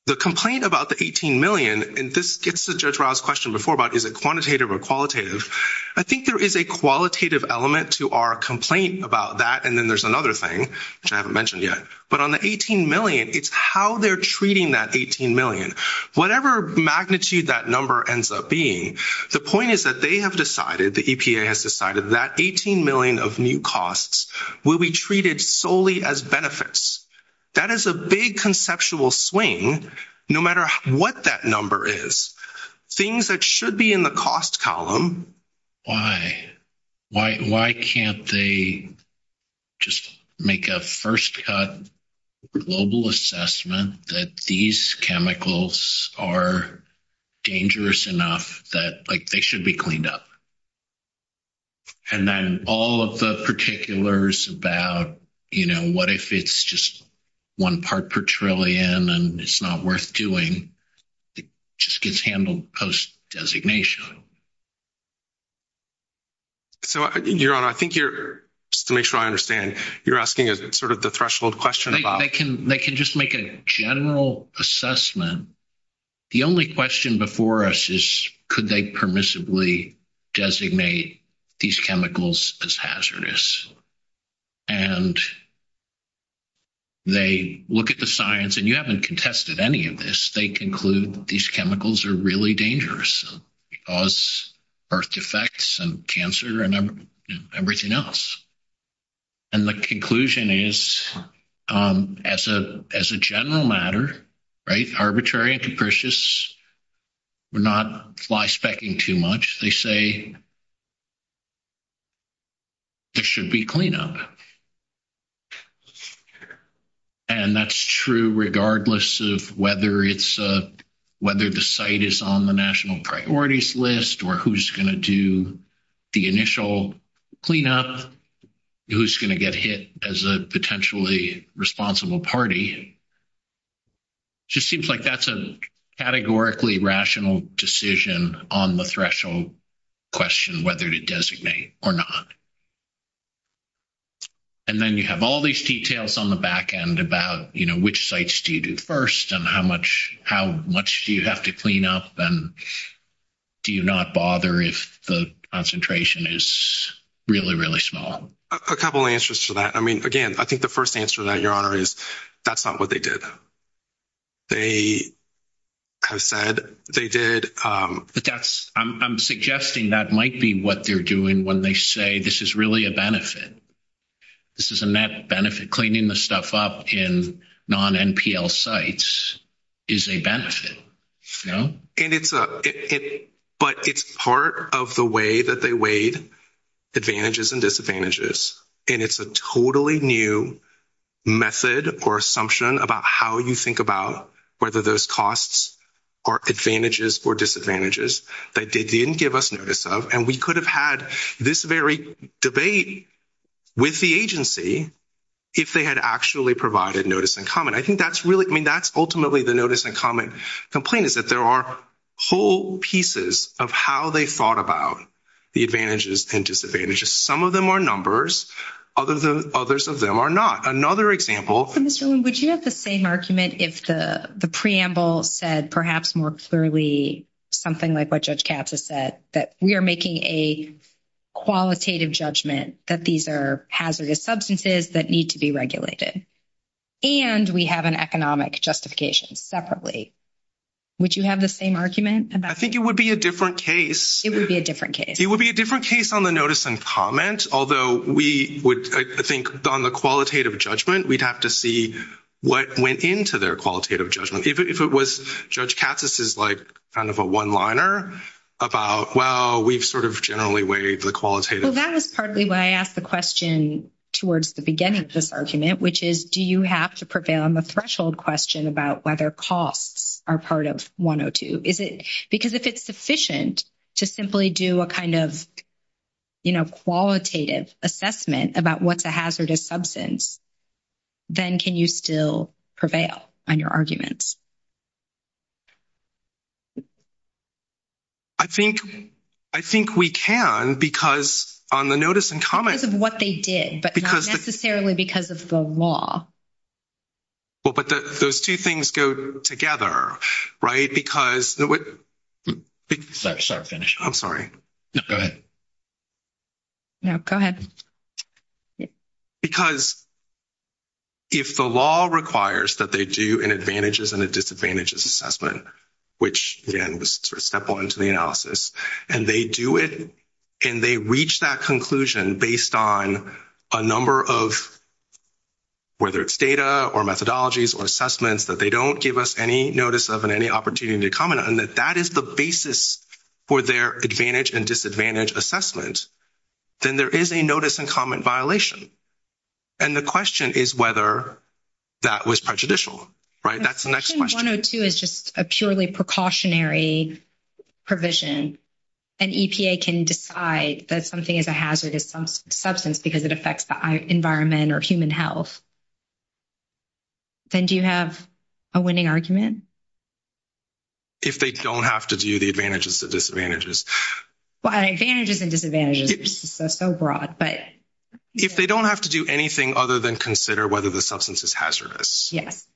The complaint about the 18 million, and this gets to Judge Riles' question before about is it quantitative or qualitative? I think there is a qualitative element to our complaint about that. And then there's another thing, which I haven't mentioned yet but on the 18 million, it's how they're treating that 18 million. Whatever magnitude that number ends up being, the point is that they have decided, the EPA has decided that 18 million of new costs will be treated solely as benefits. That is a big conceptual swing, no matter what that number is. Things that should be in the cost column. Why? Why can't they just make a first cut global assessment that these chemicals are dangerous enough that like they should be cleaned up? And then all of the particulars about, what if it's just one part per trillion and it's not worth doing, just gets handled post-designation. So, Your Honor, I think you're, just to make sure I understand, you're asking sort of the threshold question about- They can just make a general assessment. The only question before us is could they permissibly designate these chemicals as hazardous? And they look at the science and you haven't contested any of this. They conclude these chemicals are really dangerous. Cause birth defects and cancer and everything else. And the conclusion is as a general matter, right? Arbitrary and capricious. We're not fly specking too much. They say it should be cleaned up. And that's true regardless of whether it's, whether the site is on the national priorities list or who's gonna do the initial cleanup, who's gonna get hit as a potentially responsible party. It just seems like that's a categorically rational decision on the threshold question, whether to designate or not. And then you have all these details on the backend about which sites do you do first and how much do you have to clean up and do you not bother if the concentration is really, really small? A couple of answers to that. I mean, again, I think the first answer to that, Your Honor, is that's not what they did. They have said, they did. I'm suggesting that might be what they're doing when they say this is really a benefit. This is a net benefit. Cleaning the stuff up in non-NPL sites is a benefit. But it's part of the way that they weighed advantages and disadvantages. And it's a totally new method or assumption about how you think about whether those costs are advantages or disadvantages that they didn't give us notice of. And we could have had this very debate with the agency if they had actually provided notice and comment. I think that's really, I mean, that's ultimately the notice and comment complaint is that there are whole pieces of how they thought about the advantages and disadvantages. Some of them are numbers, others of them are not. Another example. Mr. Leung, would you have the same argument if the preamble said perhaps more clearly something like what Judge Katz has said, that we are making a qualitative judgment that these are hazardous substances that need to be regulated. And we have an economic justification separately. Would you have the same argument? I think it would be a different case. It would be a different case. Based on the notice and comment, although we would, I think on the qualitative judgment, we'd have to see what went into their qualitative judgment. If it was Judge Katz's is like kind of a one-liner about, well, we've sort of generally weighed the qualitative. Well, that was partly why I asked the question towards the beginning of this argument, which is, do you have to prevail on the threshold question about whether costs are part of 102? Because if it's sufficient to simply do a kind of, qualitative assessment about what's a hazardous substance, then can you still prevail on your arguments? I think we can, because on the notice and comment- Because of what they did, but not necessarily because of the law. Well, but those two things go together, right? Because- Sorry, finish. I'm sorry. Go ahead. No, go ahead. Because if the law requires that they do an advantages and a disadvantages assessment, which again was sort of step one into the analysis, and they do it, and they reach that conclusion based on a number of, whether it's data, or methodologies, or assessments, that they don't give us any notice of, and any opportunity to comment on, and that that is the basis for their advantage and disadvantage assessments, then there is a notice and comment violation. And the question is whether that was prejudicial, right? That's the next question. 102 is just a purely precautionary provision. An EPA can decide that something is a hazardous substance because it affects the environment or human health. Then do you have a winning argument? If they don't have to do the advantages, the disadvantages. Well, advantages and disadvantages, that's so broad, but- If they don't have to do anything other than consider whether the substance is hazardous. Yes.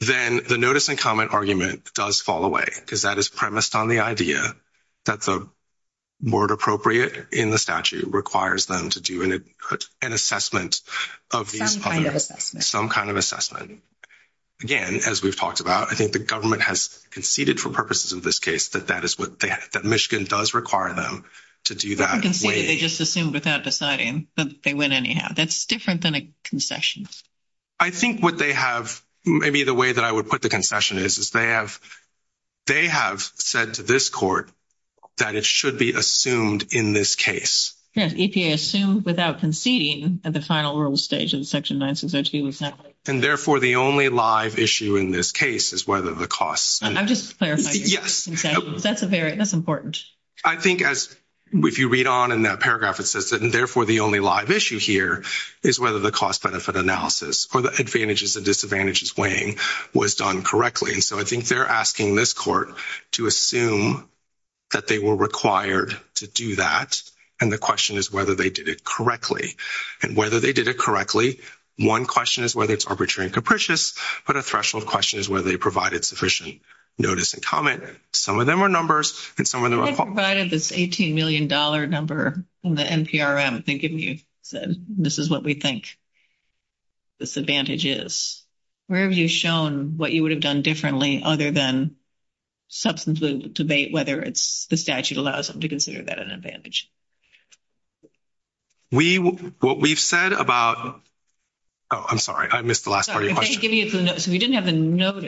Then the notice and comment argument does fall away because that is premised on the idea that the word appropriate in the statute requires them to do an assessment of- Some kind of assessment. Some kind of assessment. Again, as we've talked about, I think the government has conceded for purposes of this case that Michigan does require them to do that. Conceded, they just assumed without deciding, but they went anyhow. That's different than a concession. I think what they have, maybe the way that I would put the concession is, is they have said to this court that it should be assumed in this case. Yes, EPA assumed without conceding at the final rule stage of Section 9602. And therefore, the only live issue in this case is whether the cost- I'm just clarifying. Yes. That's important. I think as if you read on in that paragraph, it says that, and therefore the only live issue here is whether the cost benefit analysis or the advantages and disadvantages weighing was done correctly. And so I think they're asking this court to assume that they were required to do that. And the question is whether they did it correctly. And whether they did it correctly, one question is whether it's arbitrary and capricious, but a threshold question is whether they provided sufficient notice and comment. Some of them are numbers and some of them are- I provided this $18 million number from the NPRM thinking you said, this is what we think this advantage is. Where have you shown what you would have done differently other than substance of debate, whether it's the statute allows them to consider that an advantage? We, what we've said about, oh, I'm sorry, I missed the last part of your question. Sorry, if I could give you a clue, so we didn't have a note.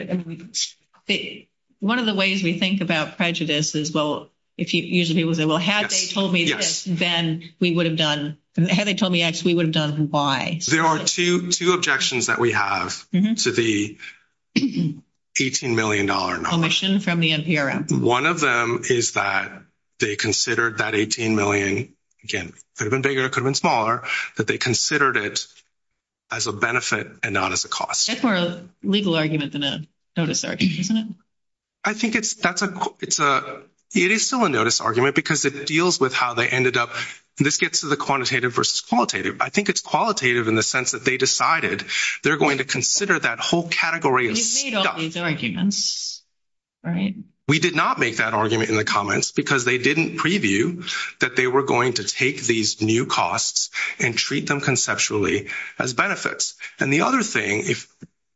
One of the ways we think about prejudice is, well, if you usually would say, well, had they told me this, then we would have done, had they told me X, we would have done Y. There are two objections that we have to the $18 million number. Omission from the NPRM. One of them is that they considered that $18 million, again, could have been bigger, could have been smaller, that they considered it as a benefit and not as a cost. It's more a legal argument than a notice argument, isn't it? I think it's, that's a, it's a, it is still a notice argument because it deals with how they ended up. This gets to the quantitative versus qualitative. I think it's qualitative in the sense that they decided they're going to consider that whole category of stuff. We've made all these arguments, right? We did not make that argument in the comments because they didn't preview that they were going to take these new costs and treat them conceptually as benefits. And the other thing, if,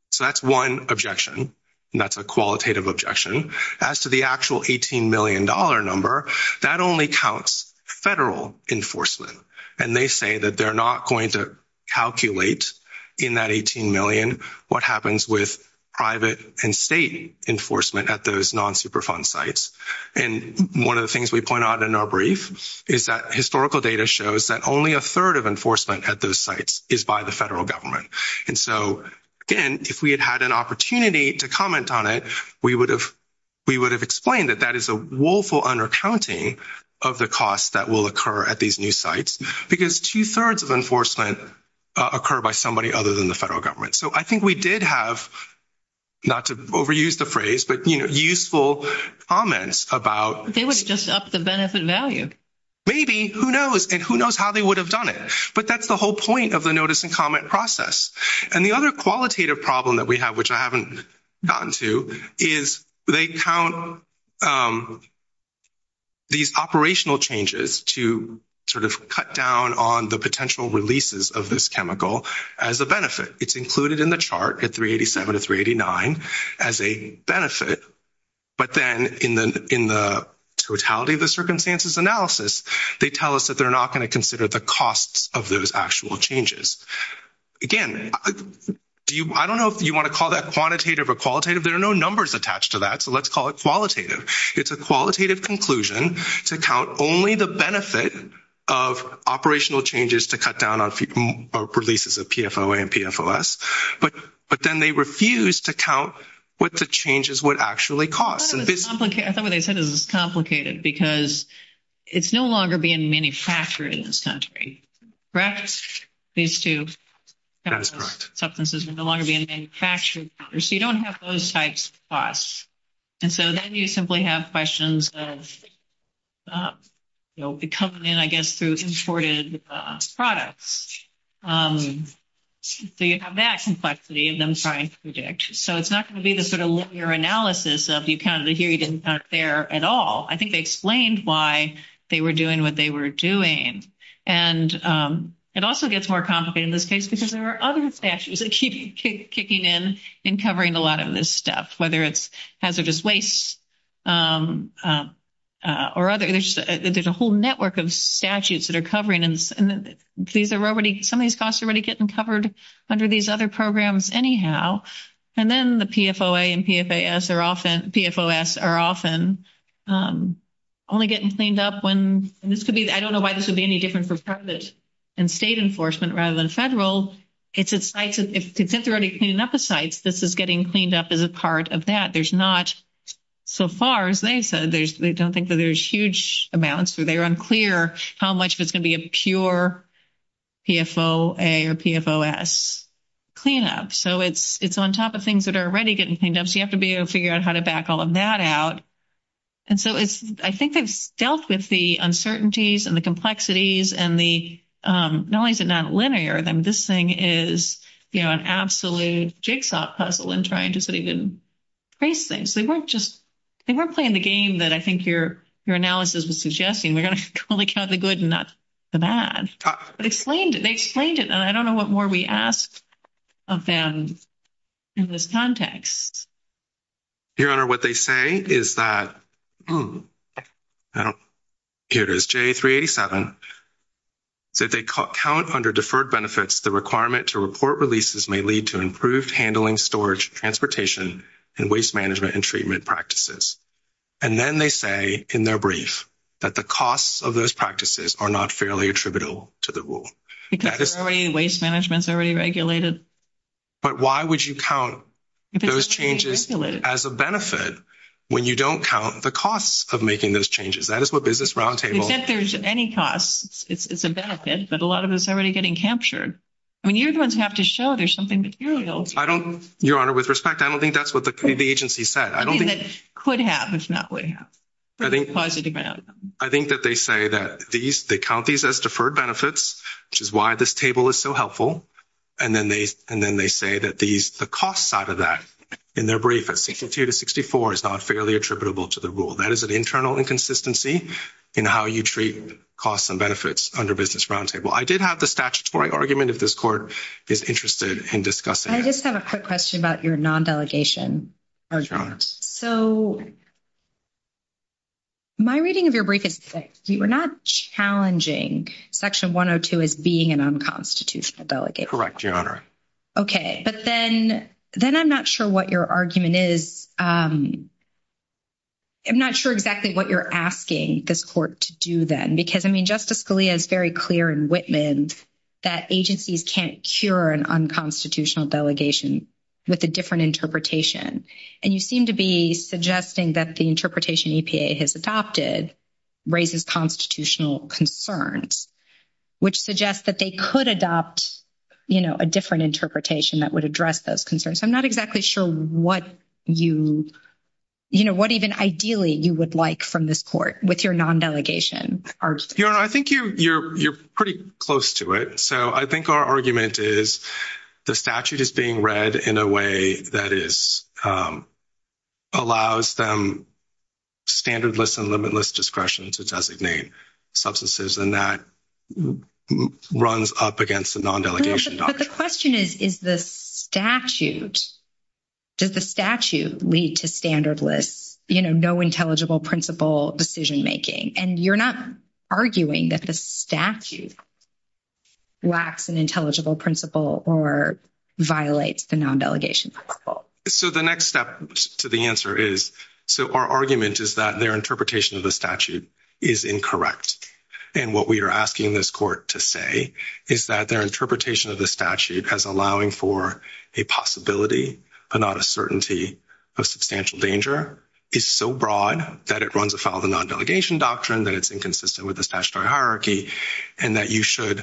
so that's one objection. That's a qualitative objection. As to the actual $18 million number, that only counts federal enforcement. And they say that they're not going to calculate in that 18 million what happens with private and state enforcement at those non-superfund sites. And one of the things we point out in our brief is that historical data shows that only a third of enforcement at those sites is by the federal government. And so, again, if we had had an opportunity to comment on it we would have explained that that is a woeful undercounting of the costs that will occur at these new sites because two thirds of enforcement occur by somebody other than the federal government. So I think we did have, not to overuse the phrase, but useful comments about- They would just up the benefit value. Maybe, who knows? And who knows how they would have done it? But that's the whole point of the notice and comment process. And the other qualitative problem that we have, which I haven't gotten to, is they count these operational changes to sort of cut down on the potential releases of this chemical as a benefit. It's included in the chart at 387 and 389 as a benefit, but then in the totality of the circumstances analysis, they tell us that they're not going to consider the costs of those actual changes. Again, I don't know if you want to call that quantitative or qualitative. There are no numbers attached to that. So let's call it qualitative. It's a qualitative conclusion to count only the benefit of operational changes to cut down on releases of PFOA and PFOS. But then they refuse to count what the changes would actually cost. I thought what they said was complicated because it's no longer being manufactured in this country. Correct? These two substances are no longer being manufactured. So you don't have those types of costs. And so then you simply have questions that come in, I guess, through imported products. So you have that complexity of them trying to predict. So it's not going to be the sort of linear analysis of you counted it here, you didn't count there at all. I think they explained why they were doing what they were doing. And it also gets more complicated in this case because there are other statutes that keep kicking in and covering a lot of this stuff, whether it's hazardous waste or other issues. There's a whole network of statutes that are covering and some of these costs are already getting covered under these other programs anyhow. And then the PFOA and PFOS are often only getting cleaned up when, and this could be, I don't know why this would be any different for private and state enforcement rather than federal. It's a site, since they're already cleaning up the sites, this is getting cleaned up as a part of that. There's not, so far as they said, they don't think that there's huge amounts. So they're unclear how much of it's going to be a pure PFOA or PFOS cleanup. So it's on top of things that are already getting cleaned up so you have to be able to figure out how to back all of that out. And so it's, I think they've dealt with the uncertainties and the complexities and the, not only is it not linear, then this thing is, you know, an absolute jigsaw puzzle in trying to sort of embrace things. They weren't just, they weren't playing the game that I think your analysis was suggesting. We're going to only count the good and not the bad. But explain, they explained it and I don't know what more we asked of them in this context. Your Honor, what they say is that, here it is, JA387, that they count under deferred benefits the requirement to report releases may lead to improved handling, storage, transportation, and waste management and treatment practices. And then they say in their brief, that the costs of those practices are not fairly attributable to the rule. That is- Waste management's already regulated. But why would you count those changes as a benefit when you don't count the costs of making those changes? That is what Business Roundtable- If there's any cost, it's a benefit, but a lot of it's already getting captured. I mean, you're the ones who have to show there's something material. Your Honor, with respect, I don't think that's what the agency said. I don't think- And it could have, it's not what it has. I think that they say that these, they count these as deferred benefits, which is why this table is so helpful. And then they say that the cost side of that, in their brief, at 62 to 64, is not fairly attributable to the rule. That is an internal inconsistency in how you treat costs and benefits under Business Roundtable. I did have the statutory argument if this Court is interested in discussing it. I just have a quick question about your non-delegation argument. So my reading of your brief is fixed. You were not challenging Section 102 as being an unconstitutional delegation. Correct, Your Honor. Okay, but then I'm not sure what your argument is. I'm not sure exactly what you're asking this Court to do then, because, I mean, Justice Scalia is very clear in Whitman that agencies can't cure an unconstitutional delegation with a different interpretation. And you seem to be suggesting that the interpretation EPA has adopted raises constitutional concerns, which suggests that they could adopt a different interpretation that would address those concerns. I'm not exactly sure what you, what even ideally you would like from this Court with your non-delegation argument. Your Honor, I think you're pretty close to it. So I think our argument is the statute is being read in a way that is, allows them standardless and limitless discretion to designate substances, and that runs up against a non-delegation doctrine. But the question is, is the statute, does the statute lead to standardless, you know, no intelligible principle decision-making? And you're not arguing that the statute lacks an intelligible principle or violates the non-delegation principle. So the next step to the answer is, so our argument is that their interpretation of the statute is incorrect. And what we are asking this Court to say is that their interpretation of the statute as allowing for a possibility, and not a certainty of substantial danger is so broad that it runs afoul of the non-delegation doctrine that it's inconsistent with the statutory hierarchy, and that you should,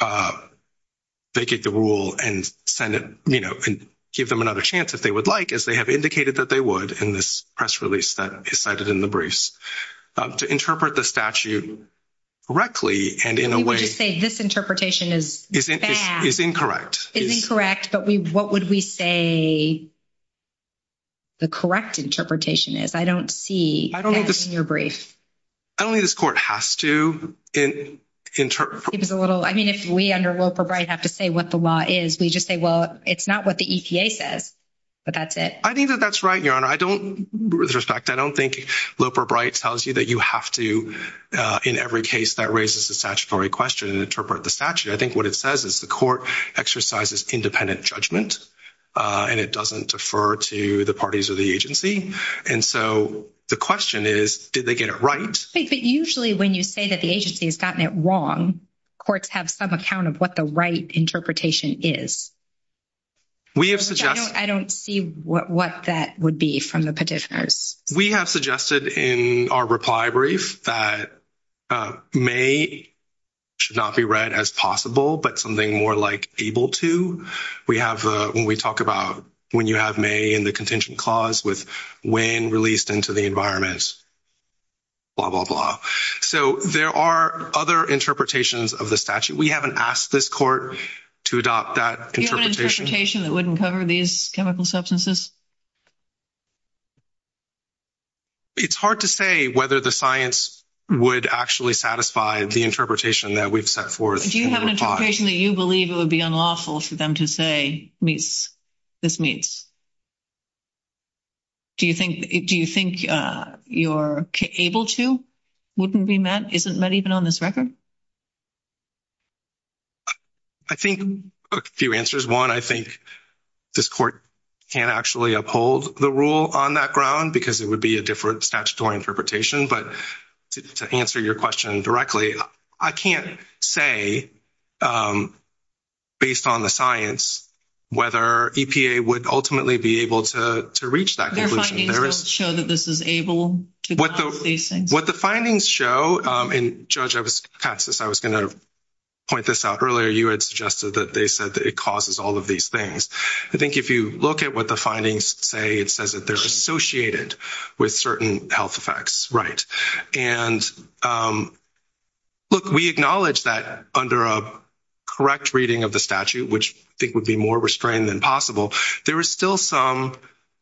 they get the rule and send it, you know, and give them another chance if they would like, as they have indicated that they would in this press release that is cited in the briefs. To interpret the statute correctly, and in a way- You just say this interpretation is bad. Is incorrect. Is incorrect, but what would we say the correct interpretation is? I don't see that in your briefs. I don't think this Court has to, in terms- It's a little, I mean, if we under Loper-Bright have to say what the law is, we just say, well, it's not what the EPA says, but that's it. I think that that's right, Your Honor. I don't, with respect, I don't think Loper-Bright tells you that you have to, in every case that raises the statutory question to interpret the statute. I think what it says is the Court exercises independent judgment, and it doesn't defer to the parties or the agency. And so the question is, did they get it right? I think that usually when you say that the agency has gotten it wrong, courts have some account of what the right interpretation is. We have suggested- I don't see what that would be from the petitioners. We have suggested in our reply brief that may should not be read as possible, but something more like able to. We have, when we talk about, when you have may in the contingent clause with when released into the environments, blah, blah, blah. So there are other interpretations of the statute. We haven't asked this court to adopt that interpretation. that wouldn't cover these chemical substances? It's hard to say whether the science would actually satisfy the interpretation that we've set forth. If you have an interpretation that you believe it would be unlawful for them to say this means. Do you think you're able to? Wouldn't be met, isn't met even on this record? I think a few answers. One, I think this court can actually uphold the rule on that ground because it would be a different statutory interpretation. But to answer your question directly, I can't say based on the science, whether EPA would ultimately be able to reach that conclusion. Show that this is able to what the findings show in Georgia, I was gonna point this out earlier. You had suggested that they said that it causes all of these things. I think if you look at what the findings say, it says that there's associated with certain health effects, right? And look, we acknowledge that under a correct reading of the statute, which I think would be more restrained than possible, there is still some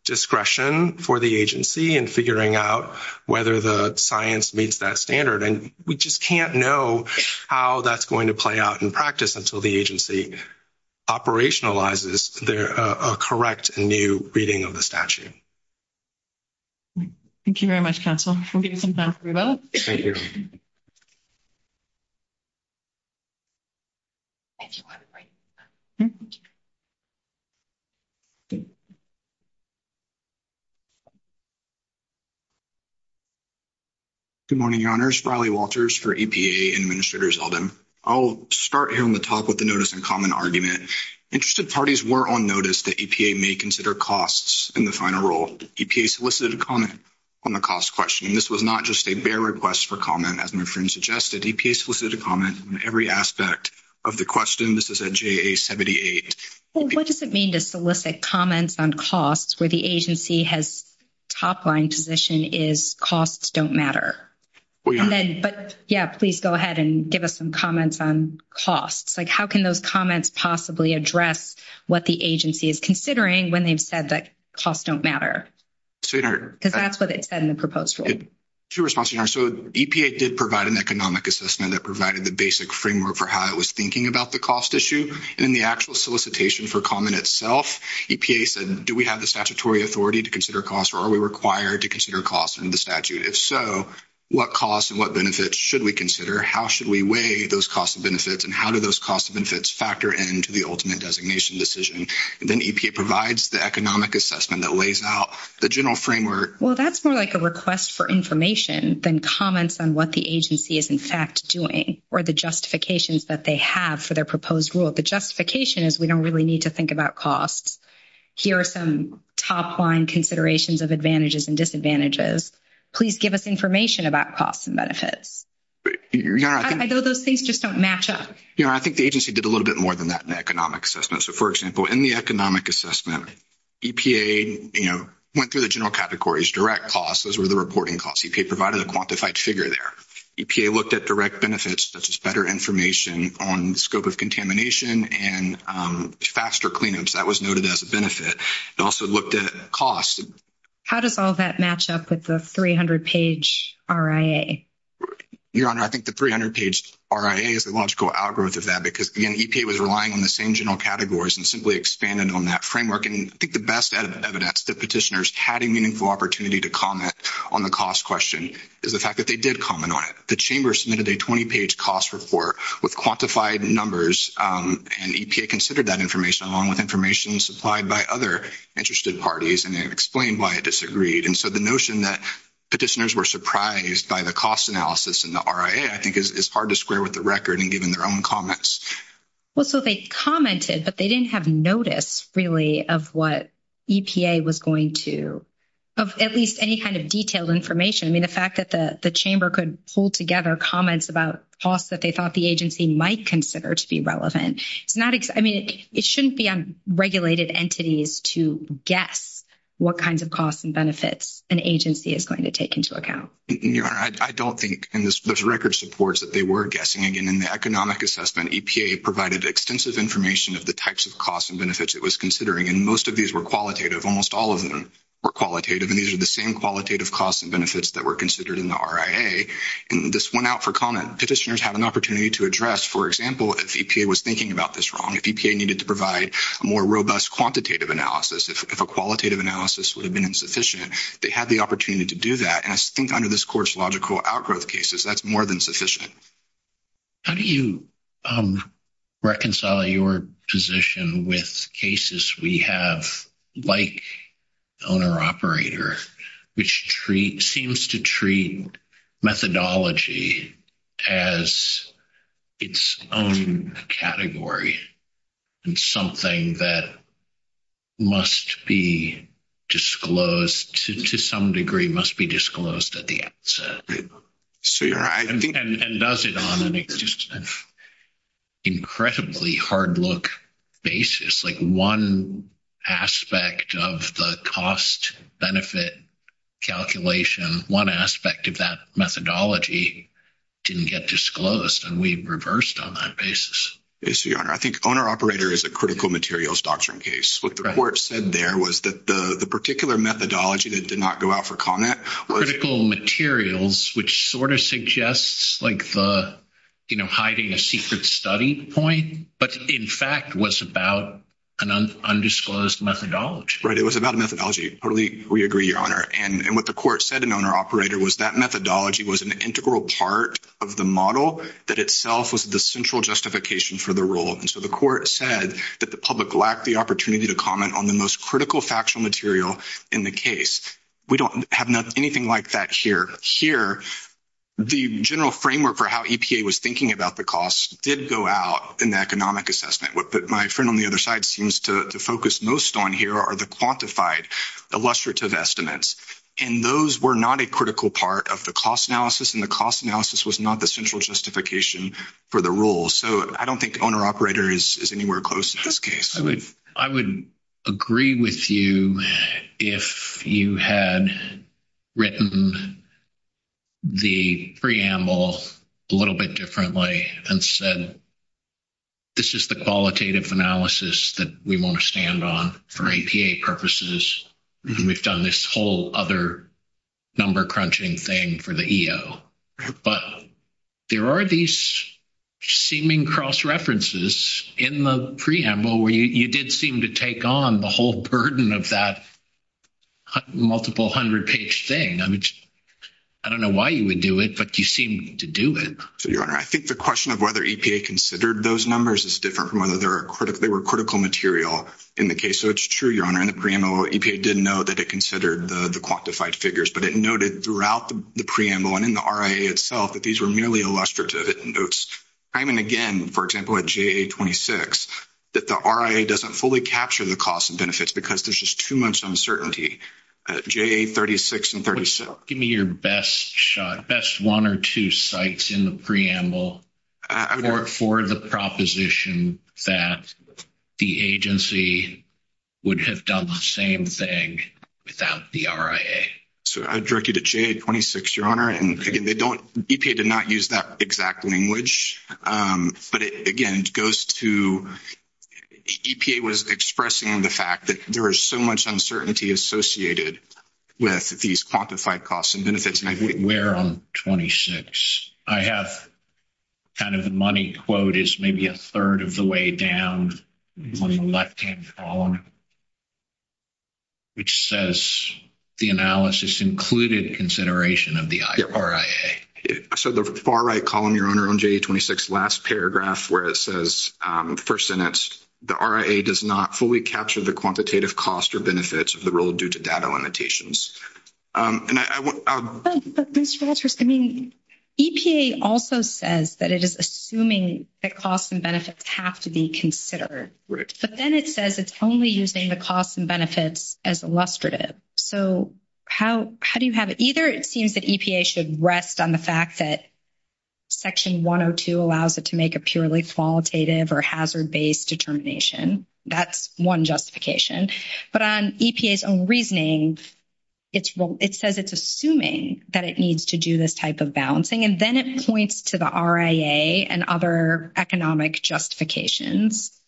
discretion for the agency in figuring out whether the science meets that standard. And we just can't know how that's going to play out in practice until the agency operationalizes a correct and new reading of the statute. Thank you very much, counsel, for giving some time for both. Thank you. Thank you. Good morning, your honors. Riley Walters for EPA and Administrator Zeldin. I'll start here in the talk with the notice and comment argument. Interested parties were on notice that EPA may consider costs in the final rule. EPA solicited a comment on the cost question. This was not just a bare request for comment, as my friend suggested. EPA solicited a comment on every aspect of the question. This is a JA-78. Well, what does it mean to solicit comments on costs where the agency has top-line position is costs don't matter? Well, yeah. Yeah, please go ahead and give us some comments on costs. Like, how can those comments possibly address what the agency is considering when they've said that costs don't matter? So, your honor- Because that's what it said in the proposal. To your response, your honor, so EPA did provide an economic assessment that provided the basic framework for how it was thinking about the cost issue. In the actual solicitation for comment itself, EPA said, do we have the statutory authority to consider costs, or are we required to consider costs in the statute? If so, what costs and what benefits should we consider? How should we weigh those costs and benefits, and how do those costs and benefits factor into the ultimate designation decision? Then EPA provides the economic assessment that lays out the general framework. Well, that's more like a request for information than comments on what the agency is, in fact, doing, or the justifications that they have for their proposed rule. The justification is, we don't really need to think about costs. Here are some top-line considerations of advantages and disadvantages. Please give us information about costs and benefits. Your honor, I think- I know those things just don't match up. Your honor, I think the agency did a little bit more than that in the economic assessment. So, for example, in the economic assessment, EPA went through the general categories, direct costs, those were the reporting costs. EPA provided a quantified figure there. EPA looked at direct benefits, such as better information on the scope of contamination and faster cleanups. That was noted as a benefit. They also looked at costs. How does all that match up with the 300-page RIA? Your honor, I think the 300-page RIA is the logical algorithm of that, because, again, EPA was relying on the same general categories and simply expanded on that framework. And I think the best evidence that petitioners had a meaningful opportunity to comment on the cost question is the fact that they did comment on it. The chamber submitted a 20-page cost report with quantified numbers, and EPA considered that information along with information supplied by other interested parties, and they explained why it disagreed. And so the notion that petitioners were surprised by the cost analysis in the RIA, I think, is hard to square with the record in giving their own comments. Well, so they commented, but they didn't have notice, really, of what EPA was going to, of at least any kind of detailed information. I mean, the fact that the chamber could pull together comments about costs that they thought the agency might consider to be relevant, it's not, I mean, it shouldn't be on regulated entities to guess what kinds of costs and benefits an agency is going to take into account. Your honor, I don't think, and there's record supports that they were guessing. Again, in the economic assessment, EPA provided extensive information of the types of costs and benefits it was considering, and most of these were qualitative. Almost all of them were qualitative, and these are the same qualitative costs and benefits that were considered in the RIA, and this went out for comment. Petitioners had an opportunity to address, for example, if EPA was thinking about this wrong, if EPA needed to provide a more robust quantitative analysis, if a qualitative analysis would have been insufficient, they had the opportunity to do that, and I think, under this course, logical outgrowth cases, that's more than sufficient. How do you reconcile your position with cases we have, like owner-operator, which seems to treat methodology as its own category, and something that must be disclosed, to some degree, must be disclosed at the outset, and does it on an incredibly hard-look basis, like one aspect of the cost-benefit calculation, one aspect of that methodology didn't get disclosed, and we reversed on that basis? Yes, your honor, I think owner-operator is a critical materials doctrine case. What the report said there was that the particular methodology that did not go out for comment. Critical materials, which sort of suggests like the hiding a secret study point, but in fact was about an undisclosed methodology. Right, it was about a methodology. Totally, we agree, your honor, and what the court said in owner-operator was that methodology was an integral part of the model that itself was the central justification for the role, and so the court said that the public lacked the opportunity to comment on the most critical factual material in the case. We don't have anything like that here. Here, the general framework for how EPA was thinking about the costs did go out, and the economic assessment. My friend on the other side seems to focus most on here are the quantified illustrative estimates, and those were not a critical part of the cost analysis, and the cost analysis was not the central justification for the role, so I don't think the owner-operator is anywhere close in this case. I would agree with you if you had written the preamble a little bit differently and said this is the qualitative analysis that we want to stand on for EPA purposes, and we've done this whole other number-crunching thing for the EO, but there are these seeming cross-references in the preamble where you did seem to take on the whole burden of that multiple hundred-page thing. I mean, I don't know why you would do it, but you seem to do it. So, your Honor, I think the question of whether EPA considered those numbers is different from whether they were critical material in the case, so it's true, your Honor, in the preamble, EPA did know that it considered the quantified figures, but it noted throughout the preamble and in the RIA itself that these were merely illustrative. It notes time and again, for example, at JA-26, that the RIA doesn't fully capture the costs and benefits because there's just too much uncertainty at JA-36 and 37. Give me your best shot, best one or two sites in the preamble for the proposition that the agency would have done the same thing without the RIA. So, I direct you to JA-26, your Honor, and again, EPA did not use that exact language, but it, again, goes to, EPA was expressing the fact that there is so much uncertainty associated with these quantified costs and benefits. Where on 26? I have kind of the money quote is maybe a third of the way down on the left-hand column, which says the analysis included consideration of the RIA. So, the far right column, your Honor, on JA-26, last paragraph where it says, first sentence, the RIA does not fully capture the quantitative costs or benefits of the rule due to data limitations. And I want- But, Mr. Walters, I mean, EPA also says that it is assuming that costs and benefits have to be considered. Right. But then it says it's only using the costs and benefits as illustrative. So, how do you have it? Either it seems that EPA should rest on the fact that section 102 allows it to make a purely qualitative or hazard-based determination. That's one justification. But on EPA's own reasoning, it says it's assuming that it needs to do this type of balancing. And then it points to the RIA and other economic justifications.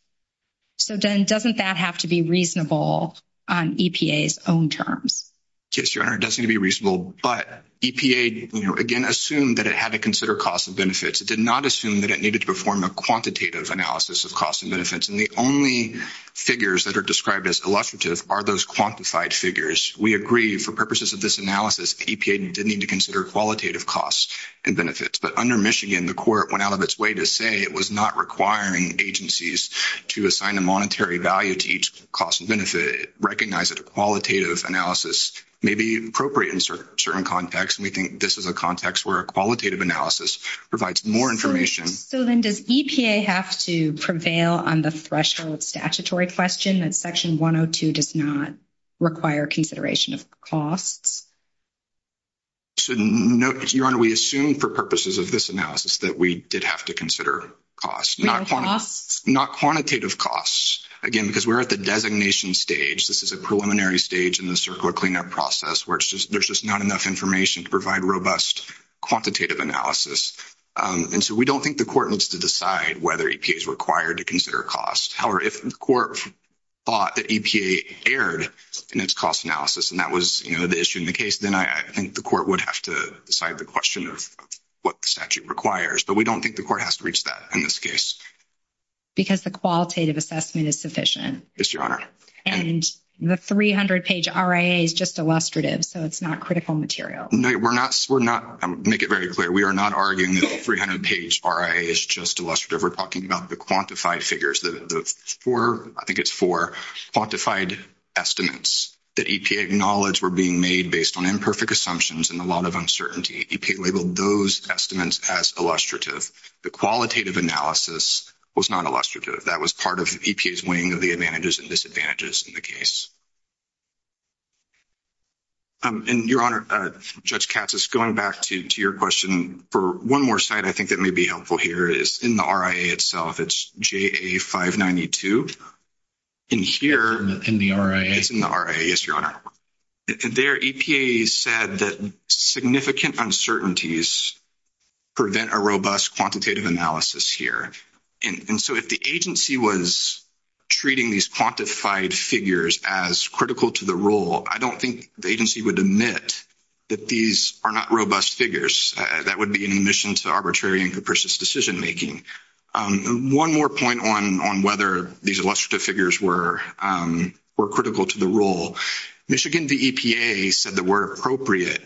So, then, doesn't that have to be reasonable on EPA's own terms? Yes, Your Honor, it does need to be reasonable. But EPA, again, assumed that it had to consider costs and benefits. It did not assume that it needed to perform a quantitative analysis of costs and benefits. And the only figures that are described as illustrative are those quantified figures. We agree, for purposes of this analysis, EPA did need to consider qualitative costs and benefits. But under Michigan, the court went out of its way to say it was not requiring agencies to assign a monetary value to each cost and benefit, recognize that a qualitative analysis may be appropriate in certain contexts. And we think this is a context where a qualitative analysis provides more information. So, then, does EPA have to prevail on the threshold statutory question that Section 102 does not require consideration of costs? So, Your Honor, we assume, for purposes of this analysis, that we did have to consider costs. Real costs? Not quantitative costs. Again, because we're at the designation stage. This is a preliminary stage in the circular cleanup process where there's just not enough information to provide robust quantitative analysis. And so, we don't think the court needs to decide whether EPA is required to consider costs. However, if the court thought that EPA erred in its cost analysis, and that was the issue in the case, then I think the court would have to decide the question of what statute requires. But we don't think the court has to reach that in this case. Because the qualitative assessment is sufficient. Yes, Your Honor. And the 300-page RIA is just illustrative, so it's not critical material. No, we're not, I'm gonna make it very clear, we are not arguing the 300-page RIA is just illustrative. We're talking about the quantified figures, the four, I think it's four, quantified estimates that EPA acknowledged were being made based on imperfect assumptions and a lot of uncertainty. EPA labeled those estimates as illustrative. The qualitative analysis was not illustrative. That was part of EPA's wing of the advantages and disadvantages in the case. And Your Honor, Judge Katsos, going back to your question, for one more site, I think that may be helpful here, is in the RIA itself, it's JA-592. And here, in the RIA, yes, Your Honor, their EPA said that significant uncertainties prevent a robust quantitative analysis here. And so if the agency was treating these quantified figures as critical to the rule, I don't think the agency would admit that these are not robust figures. That would be an admission to arbitrary and capricious decision-making. One more point on whether these illustrative figures were critical to the rule. Michigan, the EPA said that where appropriate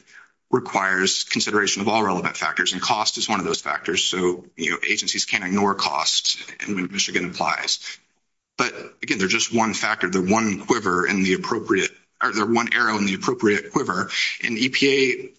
requires consideration of all relevant factors and cost is one of those factors, so agencies can't ignore cost, Michigan implies. But again, they're just one factor, they're one quiver in the appropriate, or they're one arrow in the appropriate quiver. And EPA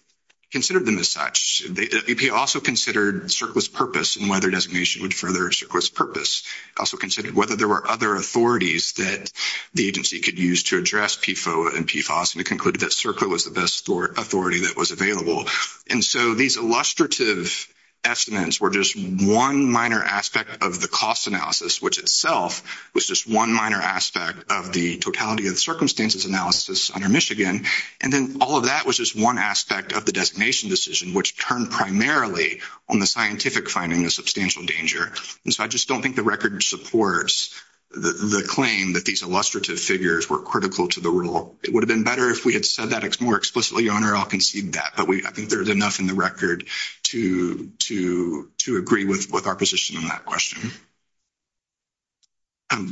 considered them as such. EPA also considered CERC was purpose and whether designation would further CERC was purpose. Also considered whether there were other authorities that the agency could use to address PFOA and PFOS, and they concluded that CERC was the best authority that was available. And so these illustrative estimates were just one minor aspect of the cost analysis, which itself was just one minor aspect of the totality of circumstances analysis under Michigan. And then all of that was just one aspect of the designation decision, which turned primarily on the scientific finding of substantial danger. And so I just don't think the record supports the claim that these illustrative figures were critical to the rule. It would have been better if we had said that more explicitly, Your Honor, I'll concede that, but I think there's enough in the record to agree with our position on that question.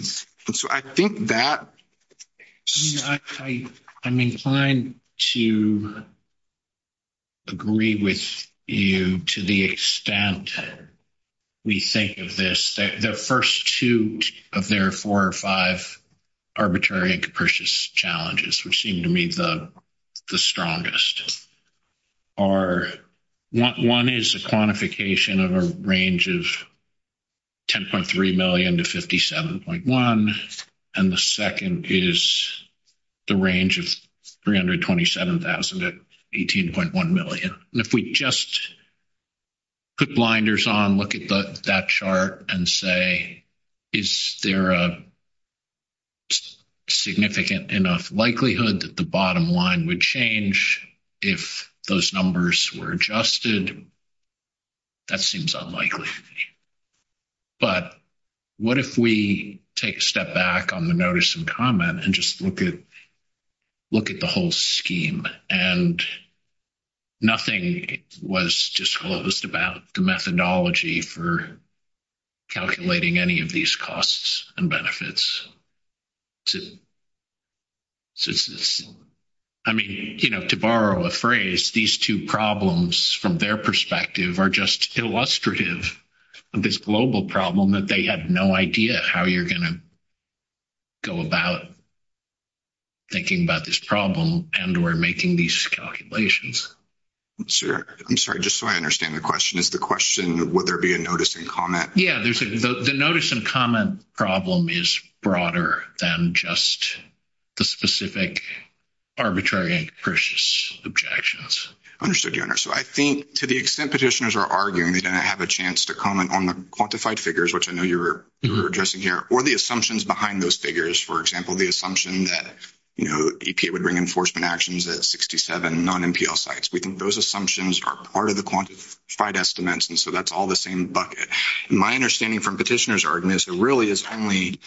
So I think that... I'm inclined to agree with you to the extent that we think of this, the first two of their four or five arbitrary and capricious challenges, which seem to me the strongest are, one is a quantification of a range of 10.3 million to 57.1. And the second is the range of 327,000 at 18.1 million. And if we just put blinders on, look at that chart and say, is there a significant enough likelihood that the bottom line would change if those numbers were adjusted? That seems unlikely. But what if we take a step back on the notice and comment and just look at the whole scheme and nothing was disclosed about the methodology for calculating any of these costs and benefits? I mean, to borrow a phrase, these two problems from their perspective are just illustrative of this global problem that they had no idea how you're gonna go about thinking about this problem and we're making these calculations. I'm sorry, just so I understand the question, is the question, would there be a notice and comment? Yeah, the notice and comment problem is broader than just the specific arbitrary and capricious objections. Understood, your honor. So I think to the extent petitioners are arguing they didn't have a chance to comment on the quantified figures, which I know you're addressing here, or the assumptions behind those figures, for example, the assumption that EPA would bring enforcement actions at 67 non-MPL sites. We think those assumptions are part of the quantified estimates and so that's all the same bucket. My understanding from petitioners' arguments really is only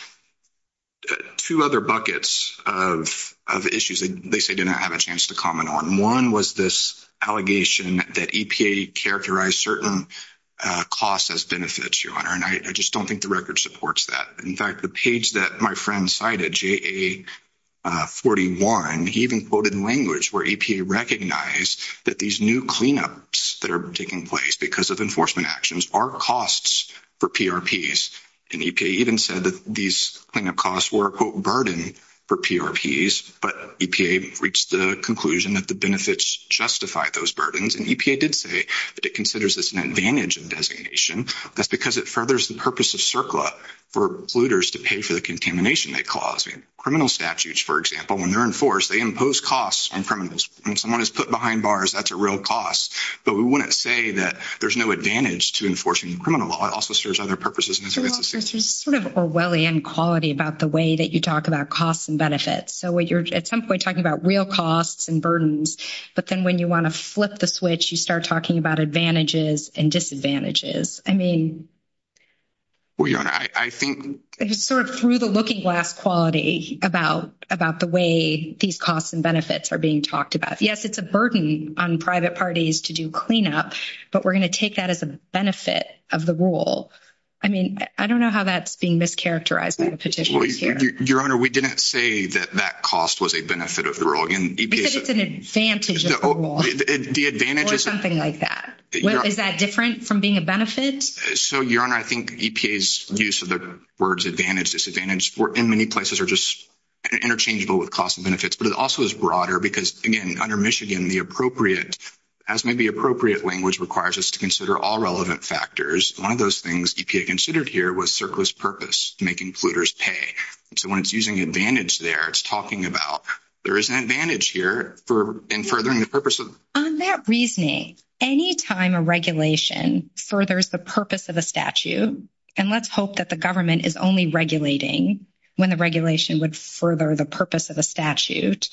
two other buckets of issues that they say they did not have a chance to comment on. One was this allegation that EPA characterized certain costs as benefits, your honor, and I just don't think the record supports that. In fact, the page that my friend cited, JA41, he even quoted language where EPA recognized that these new cleanups that are taking place because of enforcement actions are costs for PRPs. And EPA even said that these cleanup costs were, quote, burden for PRPs, but EPA reached the conclusion that the benefits justify those burdens. And EPA did say that it considers this an advantage of designation that's because it furthers the purpose of CERCLA for polluters to pay for the contamination they cause. Criminal statutes, for example, when they're enforced, they impose costs on criminals. When someone is put behind bars, that's a real cost, but we wouldn't say that there's no advantage to enforcing the criminal law. It also serves other purposes. And it's- It's sort of Orwellian quality about the way that you talk about costs and benefits. So what you're, at some point, talking about real costs and burdens, but then when you wanna flip the switch, you start talking about advantages and disadvantages. I mean- Well, your Honor, I think- I just sort of threw the looking glass quality about the way these costs and benefits are being talked about. Yes, it's a burden on private parties to do cleanup, but we're gonna take that as a benefit of the rule. I mean, I don't know how that's being mischaracterized in the petition. Your Honor, we didn't say that that cost was a benefit of the rule. Again, EPA- You said it's an advantage of the rule. The advantage is- Or something like that. Is that different from being a benefit? So, your Honor, I think EPA's use of the words advantage, disadvantage, in many places, are just interchangeable with costs and benefits. But it also is broader because, again, under Michigan, the appropriate, as maybe appropriate language requires us to consider all relevant factors. One of those things EPA considered here was circlist purpose, making polluters pay. So, when it's using advantage there, it's talking about there is an advantage here in furthering the purpose of- On that reasoning, any time a regulation furthers the purpose of a statute, and let's hope that the government is only regulating when the regulation would further the purpose of a statute,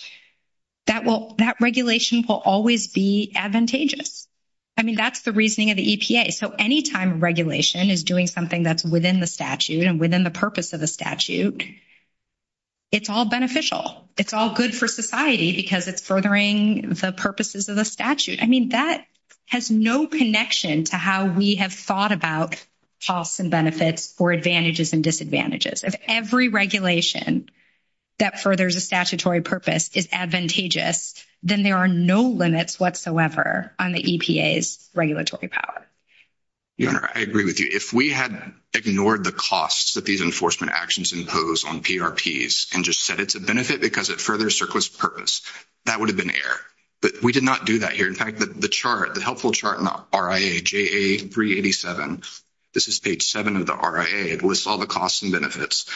that regulation will always be advantageous. I mean, that's the reasoning of the EPA. So, any time a regulation is doing something that's within the statute and within the purpose of the statute, it's all beneficial. It's all good for society because it's furthering the purposes of the statute. I mean, that has no connection to how we have thought about costs and benefits or advantages and disadvantages. If every regulation that furthers a statutory purpose is advantageous, then there are no limits whatsoever on the EPA's regulatory power. Your Honor, I agree with you. If we had ignored the costs that these enforcement actions impose on PRPs and just set it to benefit because it furthers surplus purpose, that would have been error. But we did not do that here. In fact, the chart, the helpful chart in the RIA, JA387, this is page seven of the RIA, it lists all the costs and benefits.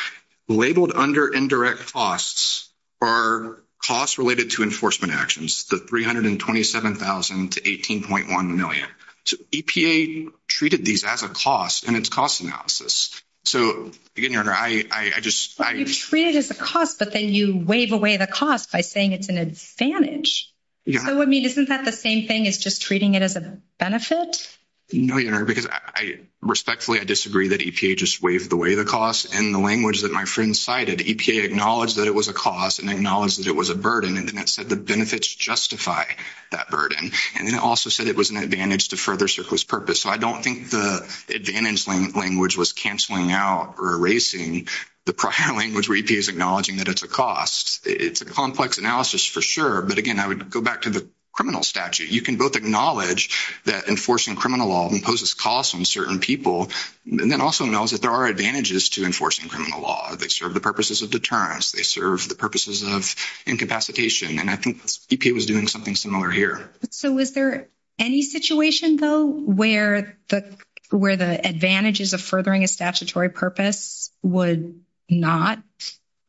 Labeled under indirect costs are costs related to enforcement actions, the $327,000 to $18.1 million. So EPA treated these as a cost and it's cost analysis. So again, Your Honor, I just- Well, you treat it as a cost, but then you wave away the cost by saying it's an advantage. Yeah. So, I mean, isn't that the same thing as just treating it as a benefit? No, Your Honor, because I respectfully, I disagree that EPA just waved away the cost and the language that my friend cited, EPA acknowledged that it was a cost and acknowledged that it was a burden and then it said the benefits justify that burden. And then it also said it was an advantage to further surplus purpose. So I don't think the advantage language was canceling out or erasing the prior language where EPA is acknowledging that it's a cost. It's a complex analysis for sure, but again, I would go back to the criminal statute. You can both acknowledge that enforcing criminal law imposes costs on certain people, and then also acknowledge that there are advantages to enforcing criminal law. They serve the purposes of deterrence, they serve the purposes of incapacitation, and I think EPA was doing something similar here. So was there any situation though, where the advantages of furthering a statutory purpose would not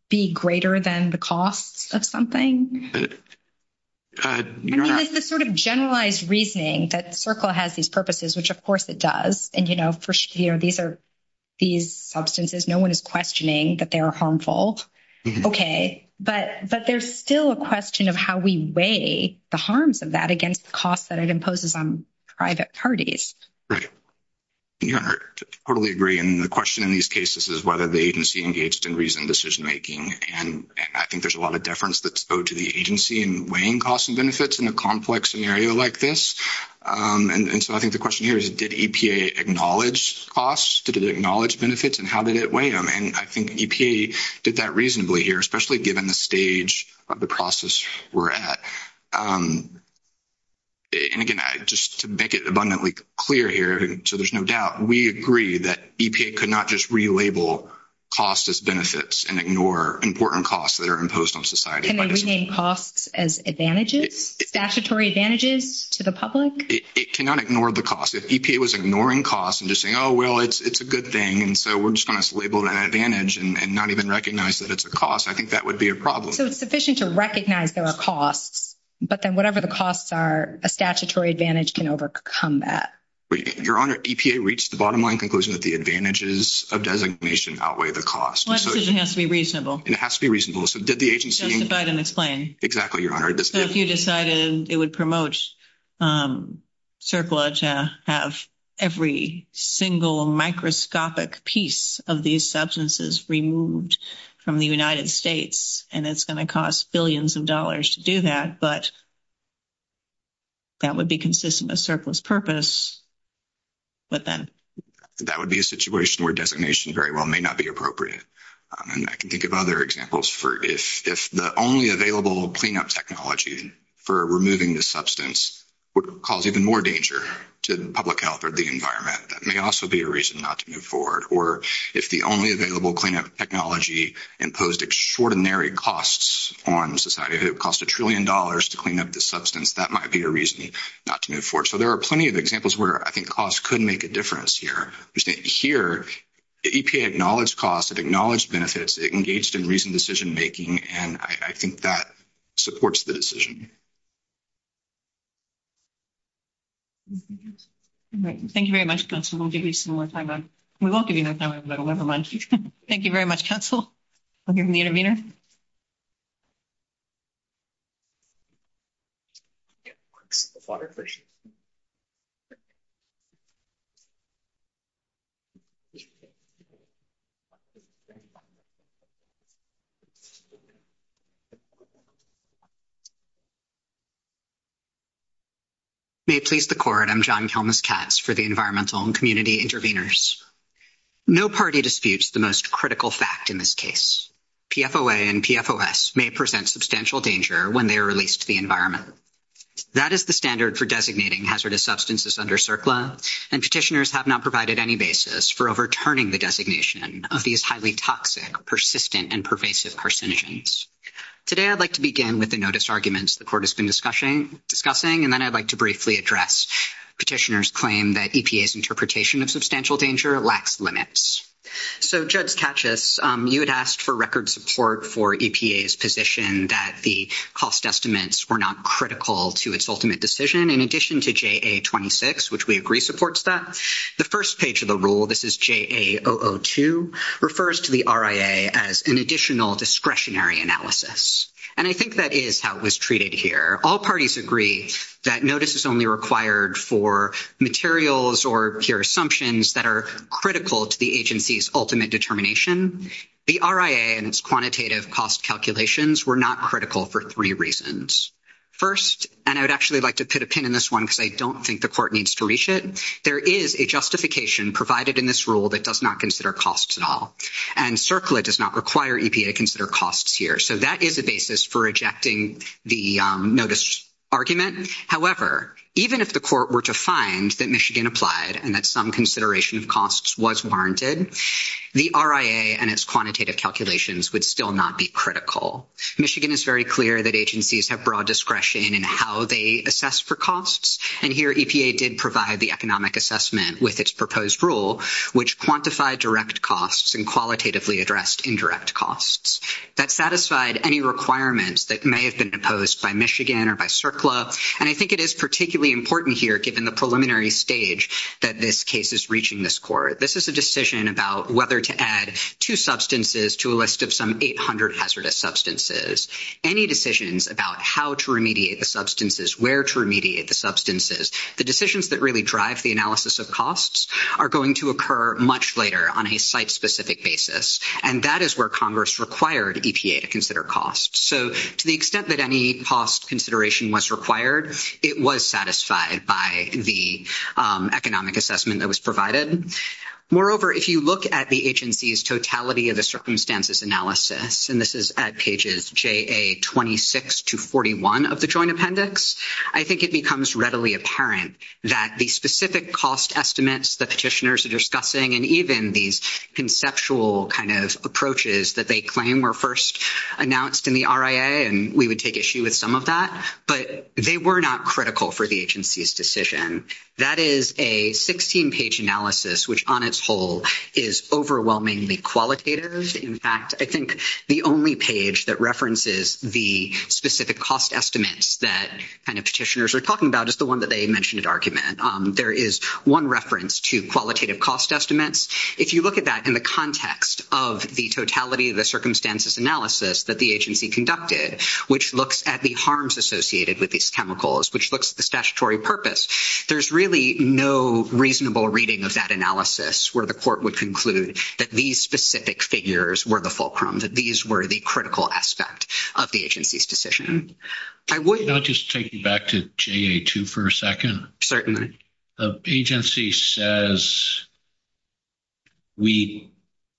be greater than the cost of something? I mean, it's a sort of generalized reasoning that FERCLA has these purposes, which of course it does. And, you know, these substances, no one is questioning that they are harmful. Okay, but there's still a question of how we weigh the harms of that against the costs that it imposes on private parties. Right, yeah, I totally agree. And the question in these cases is whether the agency engaged in reasoned decision-making. And I think there's a lot of deference that's owed to the agency in weighing costs and benefits in a complex scenario like this. And so I think the question here is, did EPA acknowledge costs? Did it acknowledge benefits and how did it weigh them? And I think EPA did that reasonably here, especially given the stage of the process we're at. And again, just to make it abundantly clear here, so there's no doubt, we agree that EPA could not just relabel costs as benefits and ignore important costs that are imposed on society. Can they rename costs as advantages, statutory advantages to the public? It cannot ignore the cost. If EPA was ignoring costs and just saying, oh, well, it's a good thing, so we're just going to label it an advantage and not even recognize that it's a cost, I think that would be a problem. So it's sufficient to recognize there are costs, but then whatever the costs are, a statutory advantage can overcome that. Your Honor, EPA reached the bottom line conclusion that the advantages of designation outweigh the costs. Well, that doesn't have to be reasonable. It has to be reasonable. So did the agency- Justified and explained. Exactly, Your Honor. So if you decided it would promote surplus to have every single microscopic piece of these substances removed from the United States, and it's going to cost billions of dollars to do that, but that would be consistent with surplus purpose, but then- That would be a situation where designation very well may not be appropriate. And I can think of other examples for if the only available cleanup technology for removing the substance would cause even more danger to public health or the environment, that may also be a reason not to move forward. Or if the only available cleanup technology imposed extraordinary costs on society, if it would cost a trillion dollars to clean up the substance, that might be a reason not to move forward. So there are plenty of examples where I think costs could make a difference here. Here, EPA acknowledged costs, it acknowledged benefits, it engaged in reasoned decision-making, and I think that supports the decision. Thank you very much, Counsel. We'll give you some more time. We won't give you that time, but never mind. Thank you very much, Counsel. I'll give you the intervener. Water first. May it please the court, I'm John Thomas Katz for the Environmental and Community Interveners. No party disputes the most critical fact in this case. PFOA and PFOS may present substantial danger when they are released to the environment. That is the standard for designating hazardous substances under CERCLA, and petitioners have not provided any basis for overturning the designation of these highly toxic, persistent, and pervasive carcinogens. Today, I'd like to begin with the notice arguments the court has been discussing, and then I'd like to briefly address petitioners' claim that EPA's interpretation of substantial danger lacks limits. So Judge Katchis, you had asked for record support for EPA's position that the cost estimates were not critical to its ultimate decision, in addition to JA-26, which we agree supports that. The first page of the rule, this is JA-002, refers to the RIA as an additional discretionary analysis, and I think that is how it was treated here. All parties agree that notice is only required for materials or peer assumptions that are critical to the agency's ultimate determination. The RIA and its quantitative cost calculations were not critical for three reasons. First, and I'd actually like to put a pin in this one because I don't think the court needs to reach it, there is a justification provided in this rule that does not consider costs at all, and CERCLA does not require EPA to consider costs here, so that is a basis for rejecting the notice argument. However, even if the court were to find that Michigan applied and that some consideration of costs was warranted, the RIA and its quantitative calculations would still not be critical. Michigan is very clear that agencies have broad discretion in how they assess for costs, and here EPA did provide the economic assessment with its proposed rule, which quantified direct costs and qualitatively addressed indirect costs. That satisfied any requirements that may have been imposed by Michigan or by CERCLA, and I think it is particularly important here, given the preliminary stage that this case is reaching this court. This is a decision about whether to add two substances to a list of some 800 hazardous substances. Any decisions about how to remediate the substances, where to remediate the substances, the decisions that really drive the analysis of costs are going to occur much later on a site-specific basis, and that is where Congress required EPA to consider costs, so to the extent that any cost consideration was required, it was satisfied by the economic assessment that was provided. Moreover, if you look at the agency's totality of the circumstances analysis, and this is at pages JA26 to 41 of the Joint Appendix, I think it becomes readily apparent that the specific cost estimates the petitioners are discussing, and even these conceptual kind of approaches that they claim were first announced in the RIA, and we would take issue with some of that, but they were not critical for the agency's decision. That is a 16-page analysis, which on its whole is overwhelmingly qualitative. In fact, I think the only page that references the specific cost estimates that kind of petitioners are talking about is the one that they mentioned at argument. There is one reference to qualitative cost estimates. If you look at that in the context of the totality of the circumstances analysis that the agency conducted, which looks at the harms associated with these chemicals, which looks at the statutory purpose, there's really no reasonable reading of that analysis where the court would conclude that these specific figures were the fulcrum, that these were the critical aspect of the agency's decision. I would- I'll just take you back to JA2 for a second. Certainly. The agency says we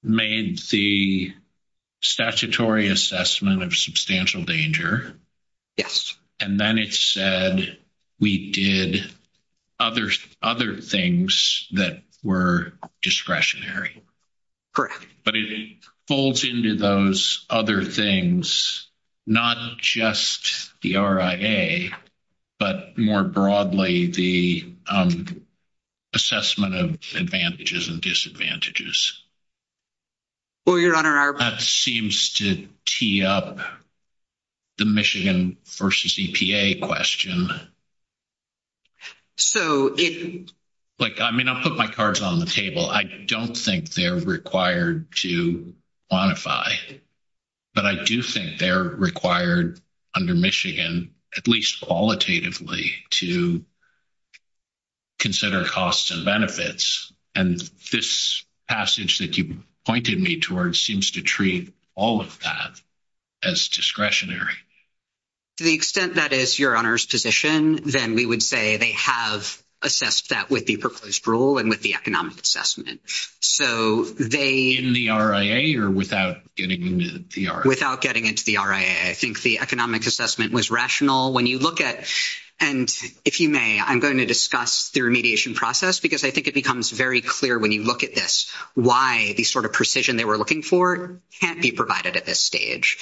made the statutory assessment of substantial danger. Yes. And then it said we did other things that were discretionary. Correct. But it folds into those other things, not just the RIA, but more broadly, the assessment of advantages and disadvantages. Well, Your Honor, our- That seems to tee up the Michigan versus EPA question. So if- Like, I mean, I'll put my cards on the table. I don't think they're required to quantify, but I do think they're required under Michigan, at least qualitatively, to consider costs and benefits. And this passage that you pointed me towards seems to treat all of that as discretionary. To the extent that is Your Honor's position, then we would say they have assessed that with the proposed rule and with the economic assessment. So they- In the RIA or without getting into the RIA? Without getting into the RIA. I think the economic assessment was rational. When you look at, and if you may, I'm going to discuss the remediation process because I think it becomes very clear when you look at this why the sort of precision they were looking for can't be provided at this stage.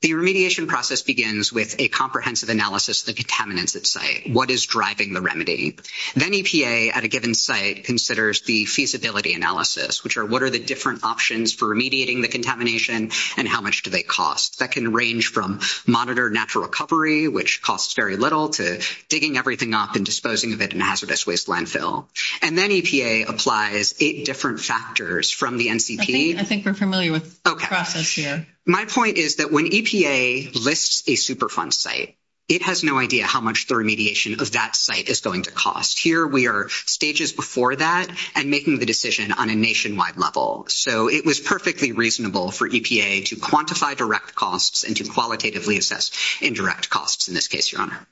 The remediation process begins with a comprehensive analysis of the contaminants at site. What is driving the remedy? Then EPA at a given site considers the feasibility analysis, which are what are the different options for remediating the contamination and how much do they cost? That can range from monitor natural recovery, which costs very little, to digging everything up and disposing of it in a hazardous waste landfill. And then EPA applies eight different factors from the NCP. I think we're familiar with the process here. My point is that when EPA lists a Superfund site, it has no idea how much the remediation of that site is going to cost. Here we are stages before that and making the decision on a nationwide level. So it was perfectly reasonable for EPA to quantify direct costs and to qualitatively assess indirect costs in this case, Your Honor.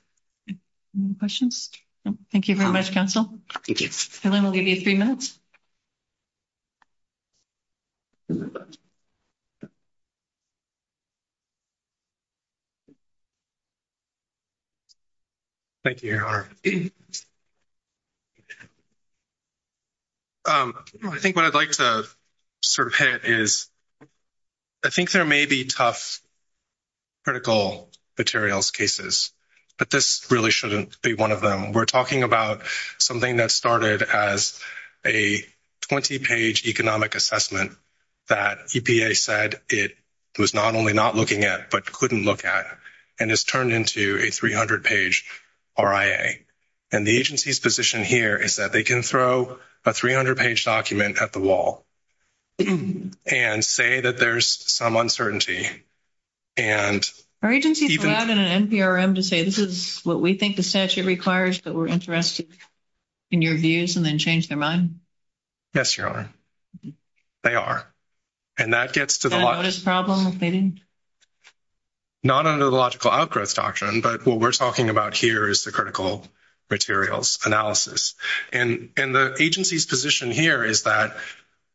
Any questions? Thank you very much, counsel. Thank you. And then we'll give you three minutes. Thank you, Your Honor. I think what I'd like to sort of hit is, I think there may be tough critical materials cases, but this really shouldn't be one of them. We're talking about something that started as a 20-page economic assessment that EPA said it was not only not looking at, but couldn't look at, and it's turned into a 300-page RIA. And the agency's position here is that they can throw a 300-page document at the wall and say that there's some uncertainty. And- Our agency is having an NPRM to say, this is what we think the statute requires, but we're interested in your views and then change their mind. Yes, Your Honor. They are. And that gets to the- Is that a notice problem, maybe? Not under the logical outgrowth doctrine, but what we're talking about here is the critical materials analysis. And the agency's position here is that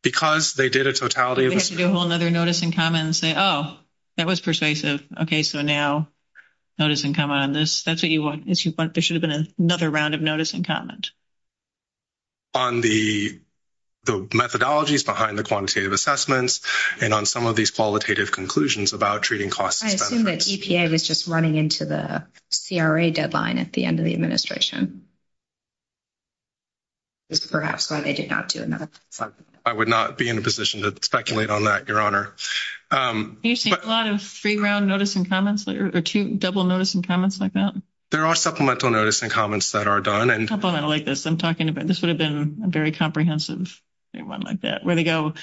because they did a totality of this- They have to do a whole notice in common and say, oh, that was persuasive. Okay, so now notice and come on this. That's what you want. There should have been another round of notice and comment. On the methodologies behind the quantitative assessments and on some of these qualitative conclusions about treating cost- I assume that EPA was just running into the CRA deadline at the end of the administration. Perhaps, but they did not do enough. I would not be in a position to speculate on that, Your Honor. You see a lot of three-round notice and comments or two double notice and comments like that? There are supplemental notice and comments that are done. Supplemental like this, I'm talking about, this would have been a very comprehensive one like that, where they go,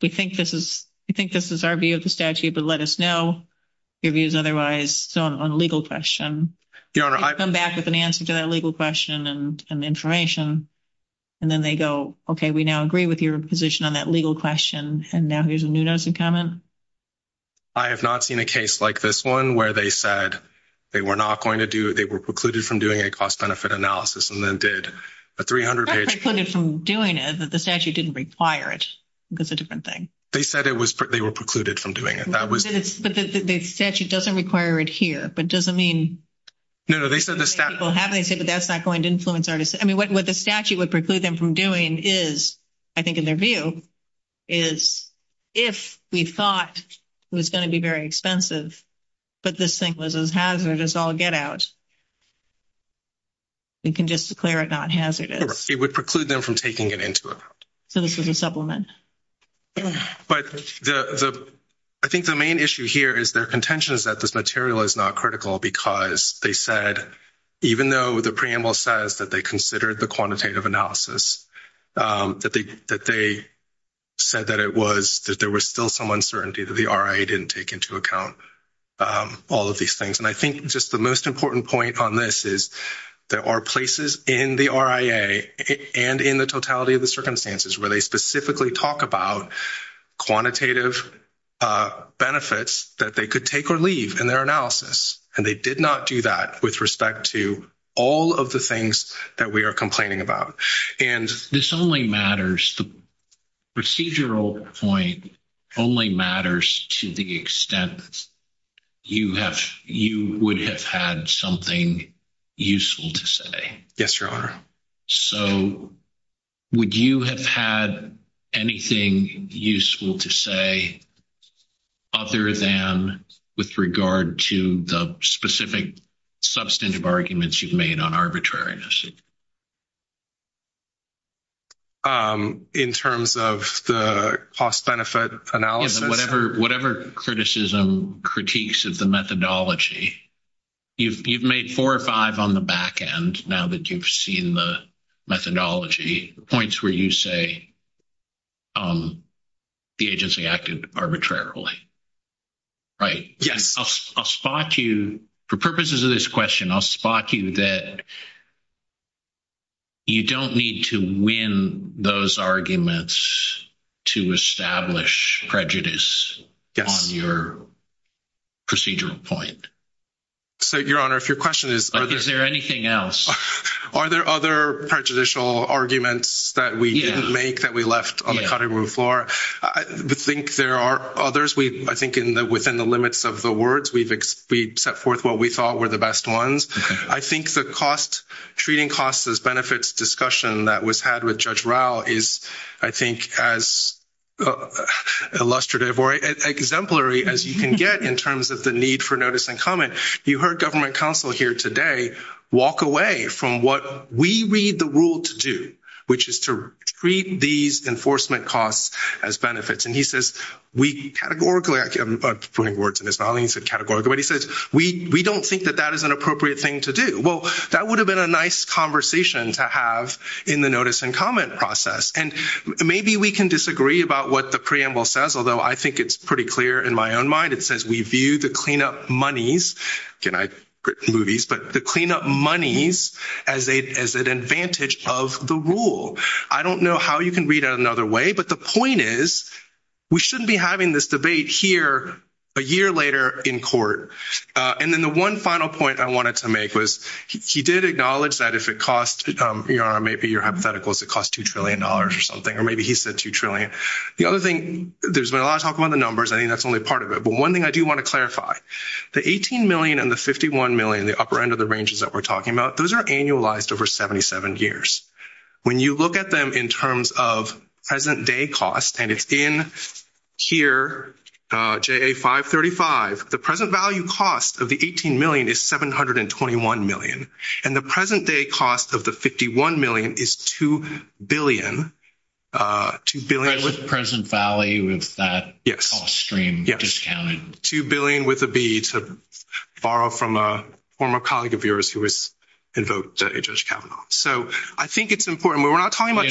they think this is our view of the statute, but let us know your views otherwise on legal question. Your Honor, I- Come back with an answer to that legal question and information, and then they go, okay, we now agree with your position on that legal question, and now here's a new notice and comment? I have not seen a case like this one where they said they were not going to do it, they were precluded from doing a cost-benefit analysis, and then did a 300-page- That's precluded from doing it, but the statute didn't require it. That's a different thing. They said they were precluded from doing it. That was- But the statute doesn't require it here, but it doesn't mean- No, no, they said the statute- Well, how do they say that that's not going to influence our decision? I mean, what the statute would preclude them from doing is, I think in their view, is if we thought it was gonna be very expensive, but this thing was as hazardous, I'll get out. We can just declare it not hazardous. It would preclude them from taking it into account. So this would be supplement. But I think the main issue here is their contention is that this material is not critical because they said, even though the preamble says that they considered the quantitative analysis, that they said that it was, that there was still some uncertainty that the RIA didn't take into account all of these things. And I think just the most important point on this is there are places in the RIA and in the totality of the circumstances where they specifically talk about quantitative benefits that they could take or leave in their analysis. And they did not do that with respect to all of the things that we are complaining about. And- This only matters. The procedural point only matters to the extent you would have had something useful to say. Yes, Your Honor. So would you have had anything useful to say other than with regard to the specific substantive arguments you've made on arbitrariness? In terms of the cost benefit analysis? Whatever criticism, critiques of the methodology. You've made four or five on the backend now that you've seen the methodology, points where you say the agency acted arbitrarily. Right? Yeah. I'll spot you, for purposes of this question, I'll spot you that you don't need to win those arguments to establish prejudice on your procedural point. So Your Honor, if your question is- Is there anything else? Are there other prejudicial arguments that we didn't make that we left on the cutting room floor? I think there are others. We, I think in the, within the limits of the words, we've set forth what we thought were the best ones. I think the cost, treating costs as benefits discussion that was had with Judge Rao is, I think, as illustrative or exemplary as you can get in terms of the need for notice and comment. You heard government counsel here today walk away from what we read the rule to do, which is to treat these enforcement costs as benefits. And he says, we categorically, I'm putting words in his volume, categorically, but he says, we don't think that that is an appropriate thing to do. Well, that would have been a nice conversation to have in the notice and comment process. And maybe we can disagree about what the preamble says, although I think it's pretty clear in my own mind. It says, we view the cleanup monies, again, I've written movies, but the cleanup monies as an advantage of the rule. I don't know how you can read it another way, but the point is we shouldn't be having this debate here a year later in court. And then the one final point I wanted to make was he did acknowledge that if it costs, maybe your hypotheticals, it costs $2 trillion or something, or maybe he said $2 trillion. The other thing, there's a lot of talk about the numbers. I think that's only part of it. But one thing I do want to clarify, the 18 million and the 51 million, the upper end of the ranges that we're talking about, those are annualized over 77 years. When you look at them in terms of present day costs, and it's in here, JA 535, the present value cost of the 18 million is 721 million. And the present day cost of the 51 million is 2 billion. 2 billion- With the present value of that all stream discounted. 2 billion with a B to borrow from a former colleague of yours who was invoked at Judge Kavanaugh. So I think it's important. We're not talking about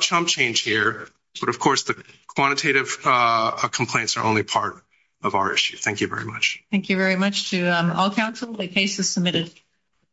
Trump change here, but of course the quantitative complaints are only part of our issue. Thank you very much. Thank you very much to all council. The case is submitted.